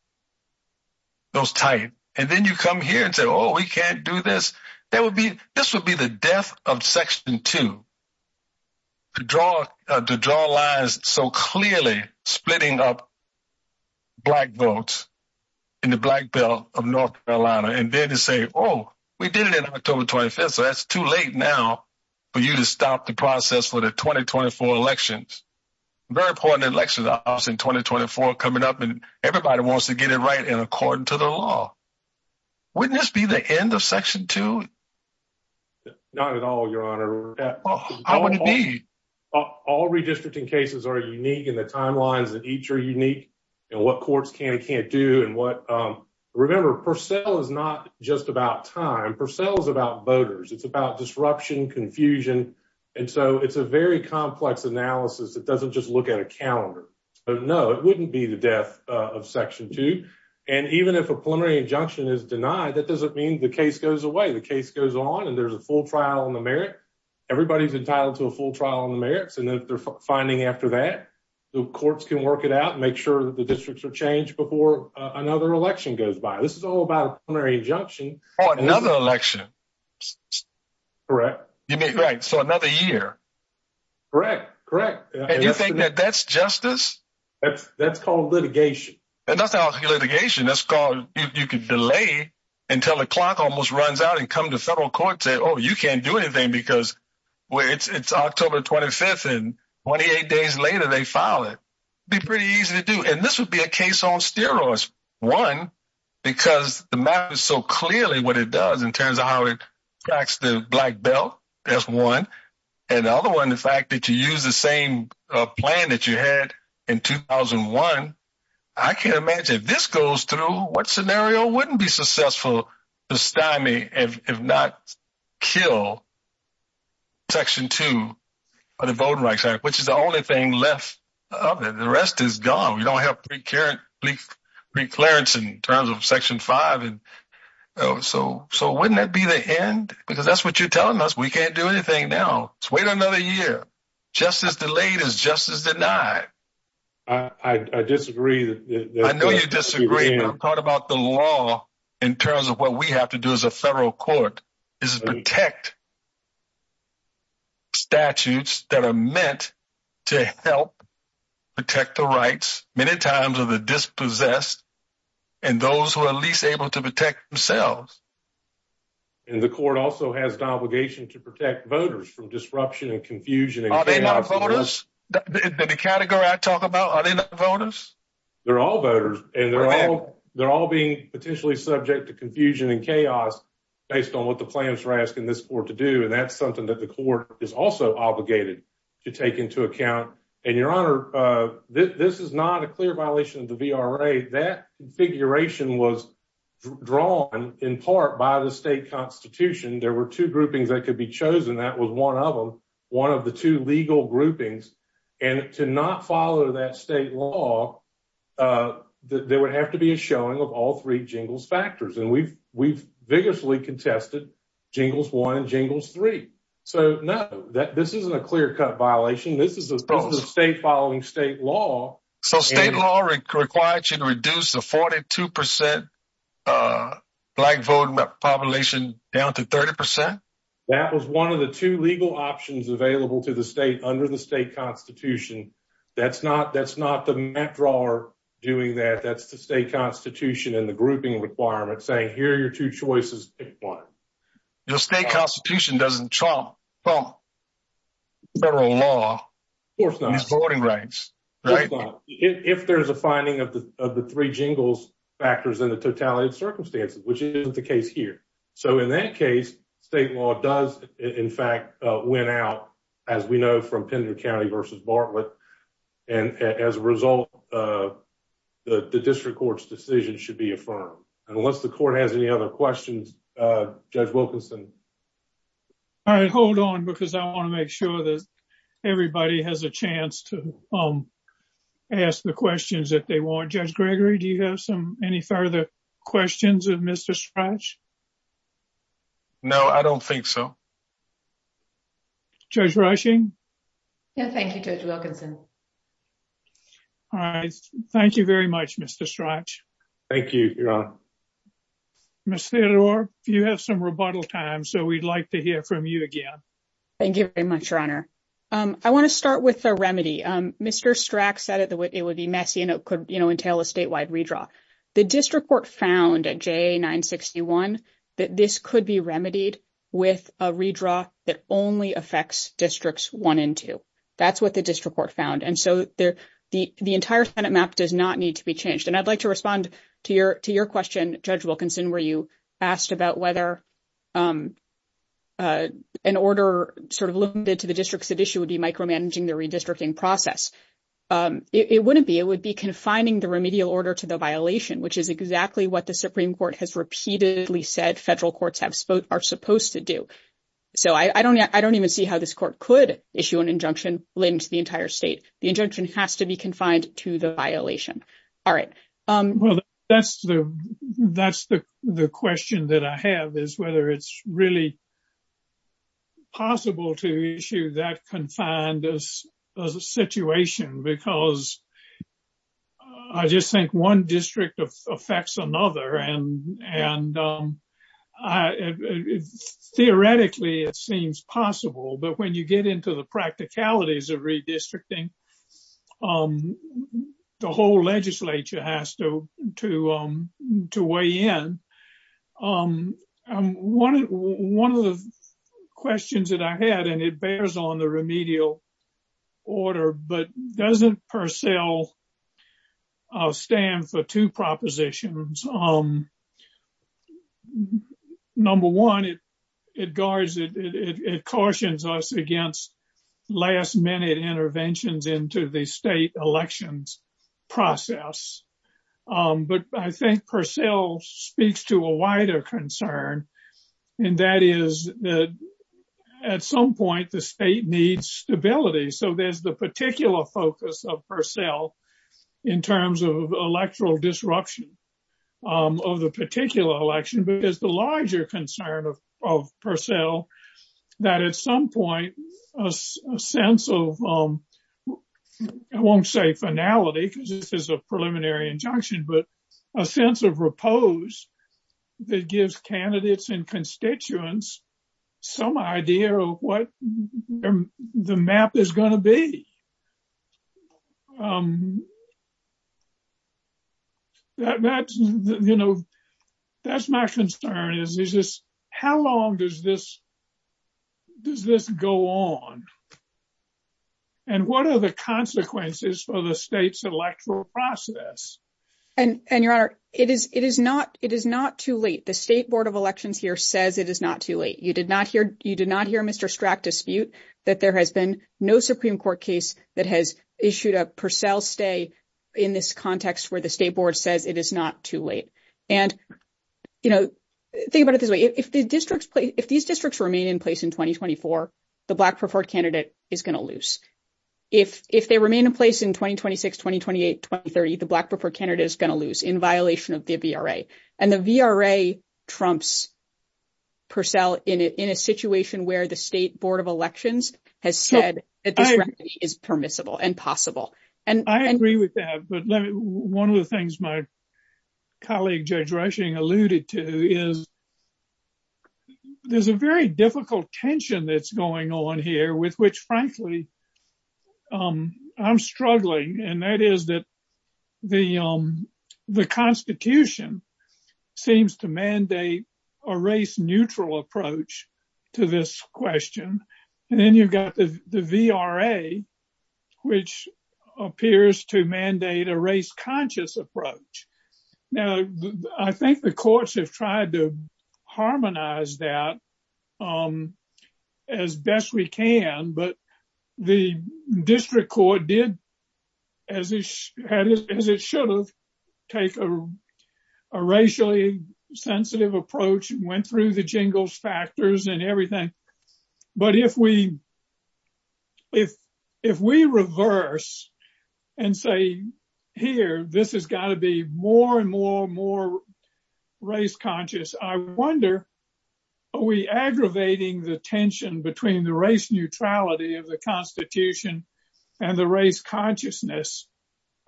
those types. And then you come here and say, oh, we can't do this. This would be the death of Section 2, to draw lines so clearly, splitting up black votes in the black belt of North Carolina. And then to say, oh, we did it in October 25th, so that's too late now for you to stop the process for the 2024 elections. Very important elections are in 2024 coming up, and everybody wants to get it right and according to the law. Wouldn't this be the end of Section 2? Not at all, Your Honor. How would it be? All redistricting cases are unique in the timelines that each are unique in what courts can and can't do. Remember, Purcell is not just about time. Purcell is about voters. It's about disruption, confusion. And so it's a very complex analysis that doesn't just look at a calendar. No, it wouldn't be the death of Section 2. And even if a preliminary injunction is denied, that doesn't mean the case goes away. The case goes on and there's a full trial on the merits. Everybody's entitled to a full trial on the merits. And if they're finding after that, the courts can work it out and make sure that the districts are changed before another election goes by. This is all about a preliminary injunction. Oh, another election. Correct. You mean, right, so another year. Correct, correct. And you think that that's justice? That's called litigation. That's called litigation. That's called if you can delay until the clock almost runs out and come to federal court and say, oh, you can't do anything because it's October 25th and 28 days later they file it. It'd be pretty easy to do. And this would be a case on steroids. One, because the matter is so clearly what it does in terms of how it tracks the black belt. That's one. And the other one, the fact that you use the same plan that you had in 2001. I can't imagine if this goes through, what scenario wouldn't be successful to stymie and if not kill Section 2 of the Voting Rights Act, which is the only thing left of it. The rest is gone. We don't have preclearance in terms of Section 5. So wouldn't that be the end? Because that's what you're telling us. We can't do anything now. It's wait another year. Justice delayed is justice denied. I disagree. I know you disagree. I'm talking about the law in terms of what we have to do as a federal court is protect statutes that are meant to help protect the rights many times of the dispossessed and those who are least able to protect themselves. And the court also has the obligation to protect voters from disruption and confusion. Are they not voters? The category I talk about, are they not voters? They're all voters. And they're all being potentially subject to confusion and chaos based on what the plans are asking this court to do. And that's something that the court is also obligated to take into account. And, Your Honor, this is not a clear violation of the VRA. That configuration was drawn in part by the state constitution. There were two groupings that could be chosen. That was one of them, one of the two legal groupings. And to not follow that state law, there would have to be a showing of all three jingles factors. And we've vigorously contested jingles one, jingles three. So, no, this isn't a clear cut violation. This is a state following state law. So state law requires you to reduce the 42% black vote population down to 30%? That was one of the two legal options available to the state under the state constitution. That's not the map drawer doing that. That's the state constitution and the grouping requirements saying here are your two choices. The state constitution doesn't trump federal law. Of course not. It's voting rights. If there's a finding of the three jingles factors in the totality of circumstances, which isn't the case here. So in that case, state law does, in fact, win out, as we know, from Pender County versus Bartlett. And as a result, the district court's decision should be affirmed. Unless the court has any other questions, Judge Wilkinson? I hold on because I want to make sure that everybody has a chance to ask the questions if they want. Judge Gregory, do you have any further questions of Mr. Strach? No, I don't think so. Judge Rushing? Thank you, Judge Wilkinson. Thank you very much, Mr. Strach. Thank you, Your Honor. Ms. Theodore, you have some rebuttal time, so we'd like to hear from you again. I want to start with a remedy. Mr. Strach said it would be messy and it could entail a statewide redraw. The district court found at JA 961 that this could be remedied with a redraw that only affects districts 1 and 2. That's what the district court found. And so the entire Senate map does not need to be changed. And I'd like to respond to your question, Judge Wilkinson, where you asked about whether an order sort of limited to the districts at issue would be micromanaging the redistricting process. It wouldn't be. It would be confining the remedial order to the violation, which is exactly what the Supreme Court has repeatedly said federal courts are supposed to do. So I don't even see how this court could issue an injunction linked to the entire state. The injunction has to be confined to the violation. All right. Well, that's the question that I have, is whether it's really possible to issue that confined situation, because I just think one district affects another. And theoretically, it seems possible. But when you get into the practicalities of redistricting, the whole legislature has to weigh in. One of the questions that I had, and it bears on the remedial order, but doesn't Purcell stand for two propositions. Number one, it guards, it cautions us against last minute interventions into the state elections process. But I think Purcell speaks to a wider concern, and that is that at some point the state needs stability. So there's the particular focus of Purcell in terms of electoral disruption of the particular election. But there's the larger concern of Purcell that at some point a sense of, I won't say finality, because this is a preliminary injunction, but a sense of repose that gives candidates and constituents some idea of what the map is going to be. That's my concern, is just how long does this go on? And what are the consequences for the state's electoral process? And, Your Honor, it is not too late. The State Board of Elections here says it is not too late. You did not hear Mr. Strack dispute that there has been no Supreme Court case that has issued a Purcell stay in this context where the State Board says it is not too late. And, you know, think about it this way. If these districts remain in place in 2024, the black preferred candidate is going to lose. If they remain in place in 2026, 2028, 2030, the black preferred candidate is going to lose in violation of the VRA. And the VRA trumps Purcell in a situation where the State Board of Elections has said it is permissible and possible. And I agree with that. But one of the things my colleague, Judge Rushing, alluded to is there's a very difficult tension that's going on here with which, frankly, I'm struggling. And that is that the Constitution seems to mandate a race-neutral approach to this question. And then you've got the VRA, which appears to mandate a race-conscious approach. Now, I think the courts have tried to harmonize that as best we can. But the district court did, as it should have, take a racially sensitive approach and went through the jingles factors and everything. But if we reverse and say, here, this has got to be more and more and more race-conscious, I wonder, are we aggravating the tension between the race neutrality of the Constitution and the race consciousness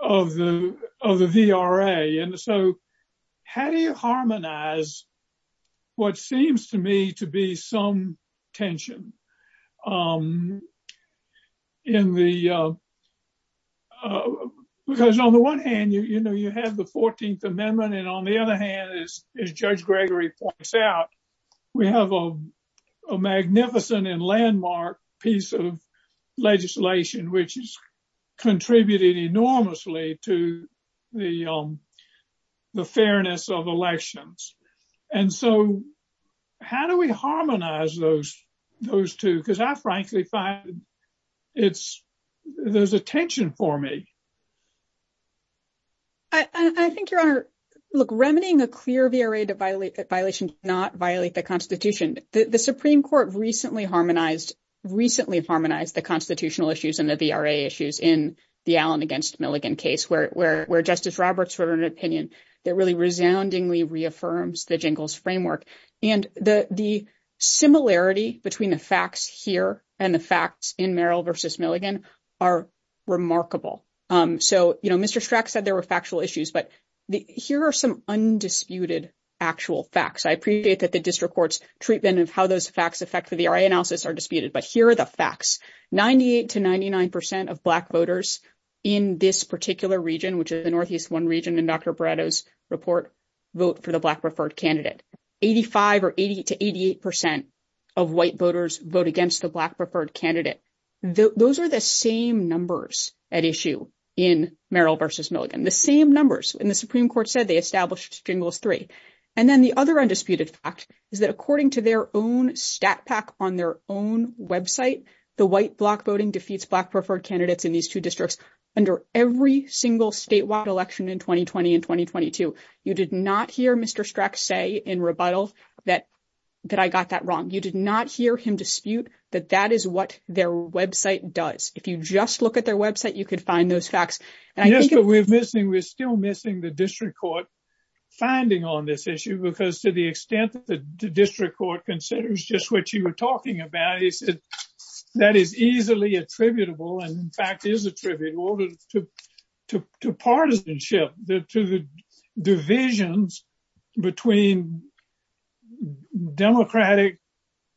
of the VRA? And so how do you harmonize what seems to me to be some tension? Because on the one hand, you have the 14th Amendment. And on the other hand, as Judge Gregory points out, we have a magnificent and landmark piece of legislation which has contributed enormously to the fairness of elections. And so how do we harmonize those two? Because I frankly find there's a tension for me. I think, Your Honor, look, remedying the clear VRA violation does not violate the Constitution. The Supreme Court recently harmonized the constitutional issues and the VRA issues in the Allen v. Milligan case, where Justice Roberts wrote an opinion that really resoundingly reaffirms the jingles framework. And the similarity between the facts here and the facts in Merrill v. Milligan are remarkable. So, you know, Mr. Strack said there were factual issues, but here are some undisputed actual facts. I appreciate that the district court's treatment of how those facts affect the VRA analysis are disputed. But here are the facts. 98 to 99 percent of black voters in this particular region, which is the Northeast One region, in Dr. Barreto's report, vote for the black preferred candidate. 85 or 80 to 88 percent of white voters vote against the black preferred candidate. Those are the same numbers at issue in Merrill v. Milligan, the same numbers. And the Supreme Court said they established stimulus three. And then the other undisputed fact is that according to their own stat pack on their own website, the white block voting defeats black preferred candidates in these two districts under every single statewide election in 2020 and 2022. You did not hear Mr. Strack say in rebuttal that I got that wrong. You did not hear him dispute that that is what their website does. If you just look at their website, you could find those facts. And that's what we're missing. We're still missing the district court's finding on this issue. Because to the extent that the district court considers just what you were talking about, that is easily attributable and in fact is attributable to partisanship, to the divisions between Democratic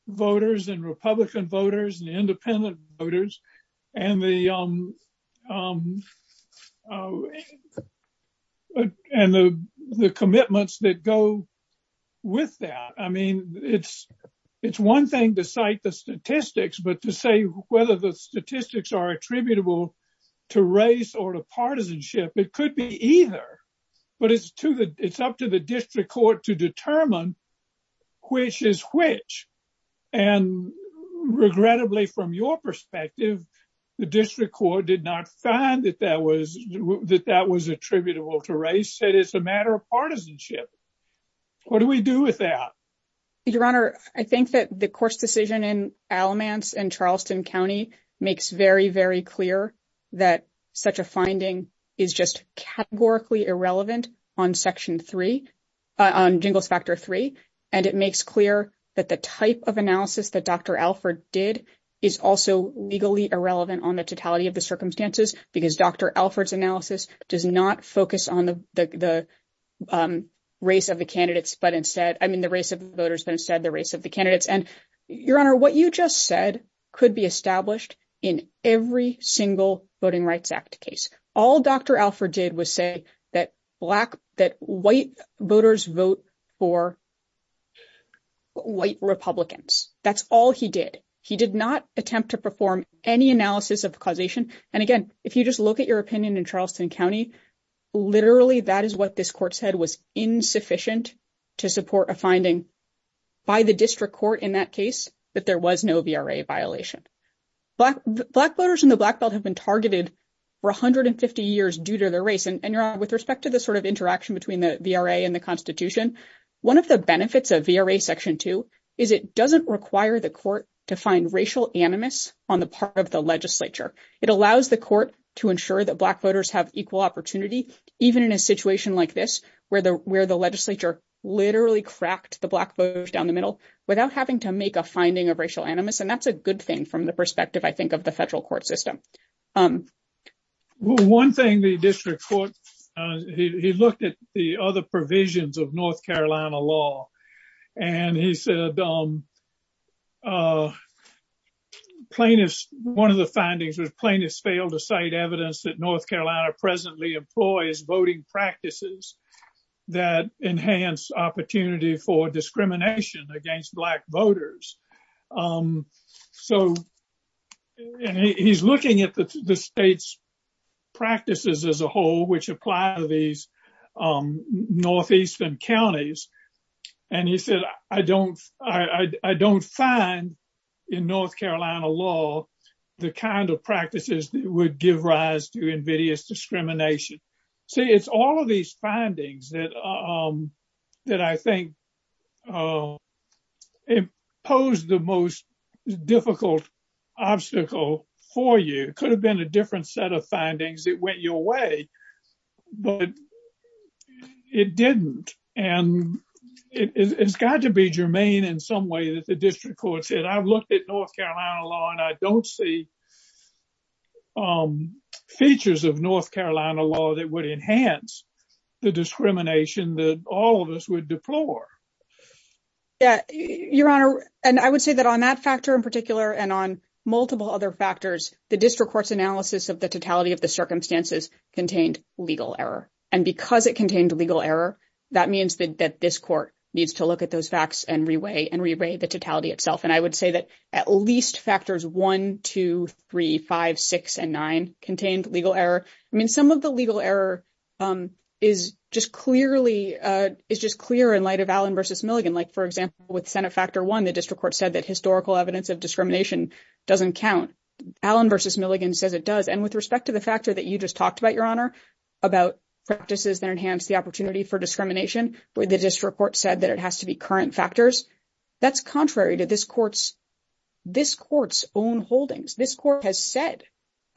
voters and Republican voters and independent voters. And the young and the commitments that go with that. I mean, it's it's one thing to cite the statistics, but to say whether the statistics are attributable to race or partisanship, it could be either. But it's true that it's up to the district court to determine which is which. And regrettably, from your perspective, the district court did not find that that was that that was attributable to race. It's a matter of partisanship. What do we do with that? Your Honor, I think that the court's decision in Alamance and Charleston County makes very, very clear that such a finding is just categorically irrelevant on Section three on Jingle Factor three. And it makes clear that the type of analysis that Dr. Alford did is also legally irrelevant on the totality of the circumstances, because Dr. Alford's analysis does not focus on the race of the candidates. But instead, I mean, the race of voters and said the race of the candidates and your honor, what you just said could be established in every single Voting Rights Act case. All Dr. Alford did was say that black that white voters vote for white Republicans. That's all he did. He did not attempt to perform any analysis of causation. And again, if you just look at your opinion in Charleston County, literally that is what this court said was insufficient to support a finding by the district court in that case. But there was no VRA violation. Black voters in the black belt have been targeted for 150 years due to the race. And with respect to the sort of interaction between the VRA and the Constitution, one of the benefits of VRA Section two is it doesn't require the court to find racial animus on the part of the legislature. It allows the court to ensure that black voters have equal opportunity, even in a situation like this where the where the legislature literally cracked the black voters down the middle without having to make a finding of racial animus. And that's a good thing from the perspective, I think, of the federal court system. One thing the district court, he looked at the other provisions of North Carolina law and he said. Plaintiffs, one of the findings was plaintiffs failed to cite evidence that North Carolina presently employs voting practices that enhance opportunity for discrimination against black voters. So he's looking at the state's practices as a whole, which apply to these northeastern counties. And he said, I don't I don't find in North Carolina law the kind of practices that would give rise to invidious discrimination. So it's all of these findings that that I think impose the most difficult obstacle for you. It could have been a different set of findings that went your way. But it didn't. And it's got to be germane in some way that the district court said, I've looked at North Carolina law and I don't see. Features of North Carolina law that would enhance the discrimination that all of us would deplore. Your honor, and I would say that on that factor in particular and on multiple other factors, the district court's analysis of the totality of the circumstances contained legal error. And because it contained legal error, that means that this court needs to look at those facts and reweigh and reweigh the totality itself. And I would say that at least factors one, two, three, five, six and nine contained legal error. I mean, some of the legal error is just clearly is just clear in light of Allen versus Milligan. Like, for example, with Senate factor one, the district court said that historical evidence of discrimination doesn't count. Allen versus Milligan said it does. And with respect to the factor that you just talked about, your honor, about practices that enhance the opportunity for discrimination. But the district court said that it has to be current factors. That's contrary to this court's this court's own holdings. This court has said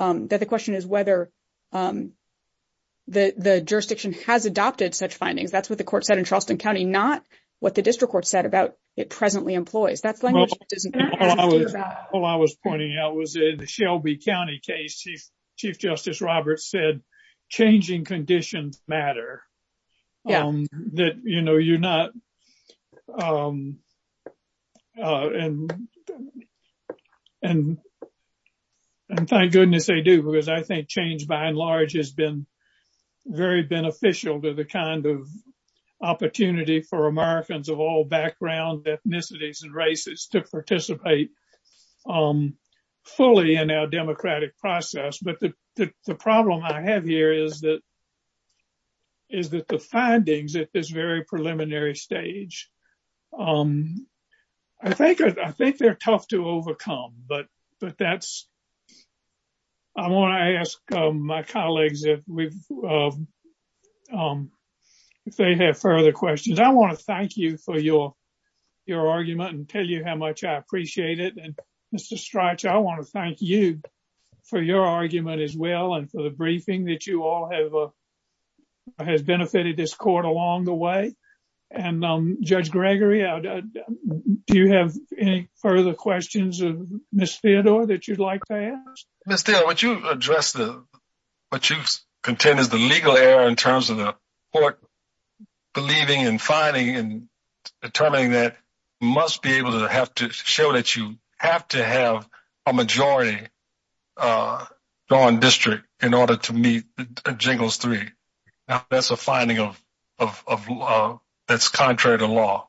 that the question is whether the jurisdiction has adopted such findings. That's what the court said in Charleston County, not what the district court said about it presently employs. Oh, I was pointing out was the Shelby County case. Chief Justice Roberts said changing conditions matter. You know, you're not. And. And thank goodness they do, because I think change by and large has been very beneficial to the kind of opportunity for Americans of all backgrounds, ethnicities and races to participate fully in our democratic process. But the problem I have here is that. Is it the findings at this very preliminary stage? I think I think they're tough to overcome, but but that's. I want to ask my colleagues if they have further questions. I want to thank you for your your argument and tell you how much I appreciate it. Mr. Strachan, I want to thank you for your argument as well. And for the briefing that you all have has benefited this court along the way. And Judge Gregory, do you have any further questions of Ms. Theodore that you'd like to ask? Would you address what you contend is the legal error in terms of the court believing and finding and determining that must be able to have to show that you have to have a majority. On district in order to meet jingles three. That's a finding of that's contrary to law.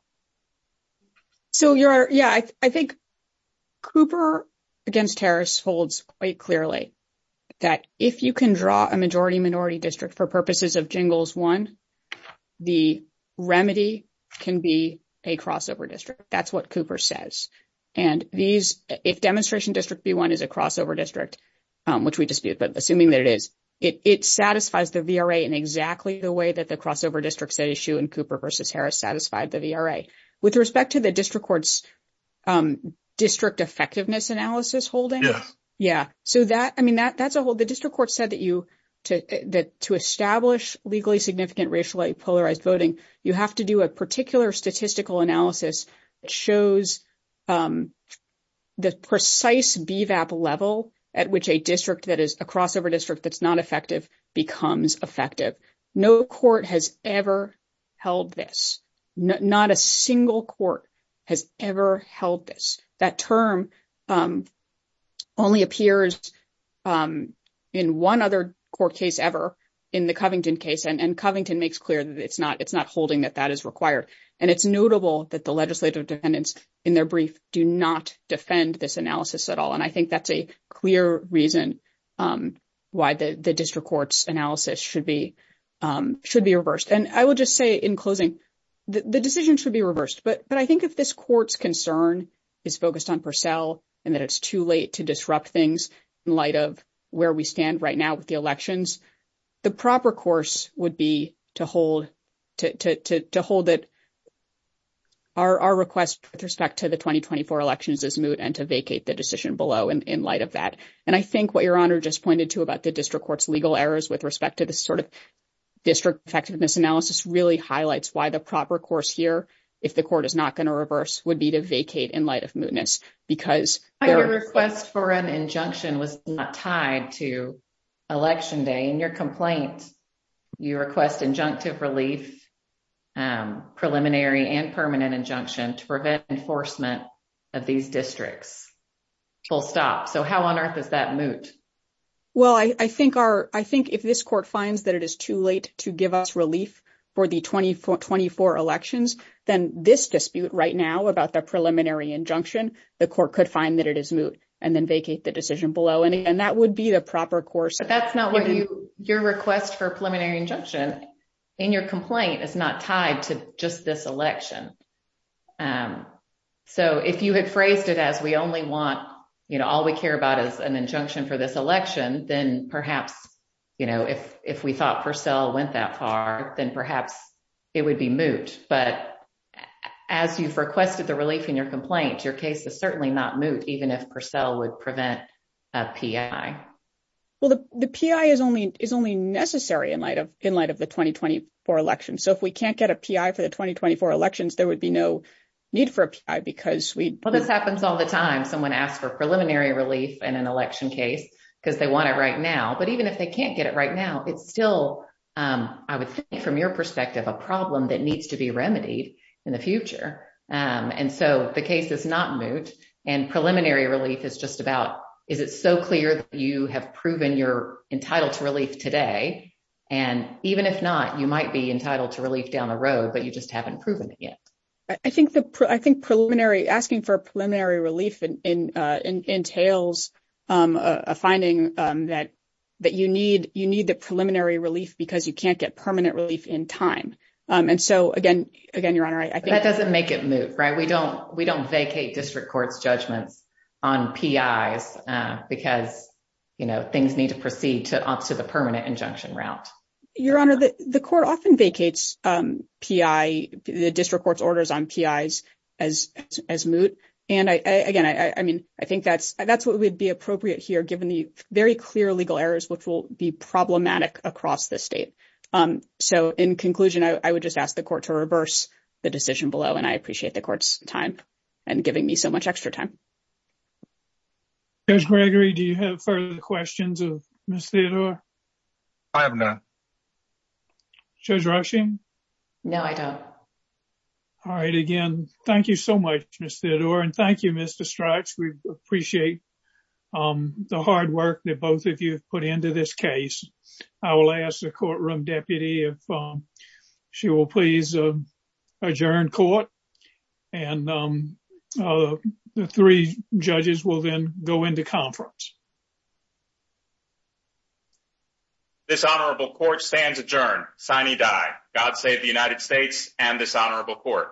So, yeah, I think Cooper against Harris holds quite clearly. That if you can draw a majority minority district for purposes of jingles, 1. The remedy can be a crossover district. That's what Cooper says. And these demonstration district be 1 is a crossover district, which we dispute. But assuming that it is, it satisfies the VRA in exactly the way that the crossover district issue in Cooper versus Harris satisfied the VRA with respect to the district courts district effectiveness analysis holding. Yeah, so that I mean, that's a whole the district court said that you to establish legally significant racial polarized voting. You have to do a particular statistical analysis shows the precise level at which a district that is a crossover district. That's not effective becomes effective. No court has ever held this. Not a single court has ever held this that term only appears in 1 other court case ever in the Covington case. And Covington makes clear that it's not it's not holding that that is required and it's notable that the legislative defendants in their brief do not defend this analysis at all. And I think that's a clear reason why the district courts analysis should be should be reversed. And I will just say, in closing, the decision should be reversed. But I think if this court's concern is focused on Purcell, and that it's too late to disrupt things in light of where we stand right now with the elections. The proper course would be to hold to hold it. Our request with respect to the 2024 elections is moot and to vacate the decision below in light of that. And I think what your honor just pointed to about the district court's legal errors with respect to the sort of district effectiveness analysis really highlights why the proper course here. If the court is not going to reverse would be to vacate in light of mootness because requests for an injunction was not tied to election day and your complaints. You request injunctive relief. Preliminary and permanent injunction to prevent enforcement of these districts. Full stop so how on earth is that moot? Well, I think our, I think if this court finds that it is too late to give us relief for the 2024 elections, then this dispute right now about the preliminary injunction, the court could find that it is moot and then vacate the decision below. And that would be the proper course, but that's not what your request for preliminary injunction in your complaint is not tied to just this election. So, if you had phrased it, as we only want, you know, all we care about is an injunction for this election, then perhaps. You know, if, if we thought for sale went that far, then perhaps. It would be moot, but as you requested the relief in your complaints, your case is certainly not moot. Even if for sale would prevent. A P. I. Well, the P. I. is only is only necessary in light of in light of the 2024 election. So, if we can't get a P. I. for the 2024 elections, there would be no. Need for a P. I. because we, well, this happens all the time. Someone asked for preliminary relief and an election case because they want it right now. But even if they can't get it right now, it's still, I would think from your perspective, a problem that needs to be remedied in the future. And so the case is not moot and preliminary release is just about is it so clear that you have proven you're entitled to release today? And even if not, you might be entitled to release down the road, but you just haven't proven it yet. I think the, I think preliminary asking for a preliminary relief entails a finding that. That you need, you need the preliminary relief because you can't get permanent relief in time. And so, again, again, you're right. I think that doesn't make it moot. Right? We don't, we don't vacate district court judgment on P. I. because. Things need to proceed to up to the permanent injunction route. Your honor, the court often vacates P. I. the district court orders on P. I. as as moot. And again, I mean, I think that's that's what would be appropriate here. Given the very clear legal errors, which will be problematic across the state. So, in conclusion, I would just ask the court to reverse the decision below and I appreciate the court's time and giving me so much extra time. Gregory, do you have further questions? I have no. All right, again, thank you so much. Thank you. Mr. Strikes. We appreciate. The hard work that both of you put into this case. I will ask the courtroom deputy. She will please adjourn court. And the 3 judges will then go into conference. This honorable court stands adjourned signing die. God save the United States and dishonorable court.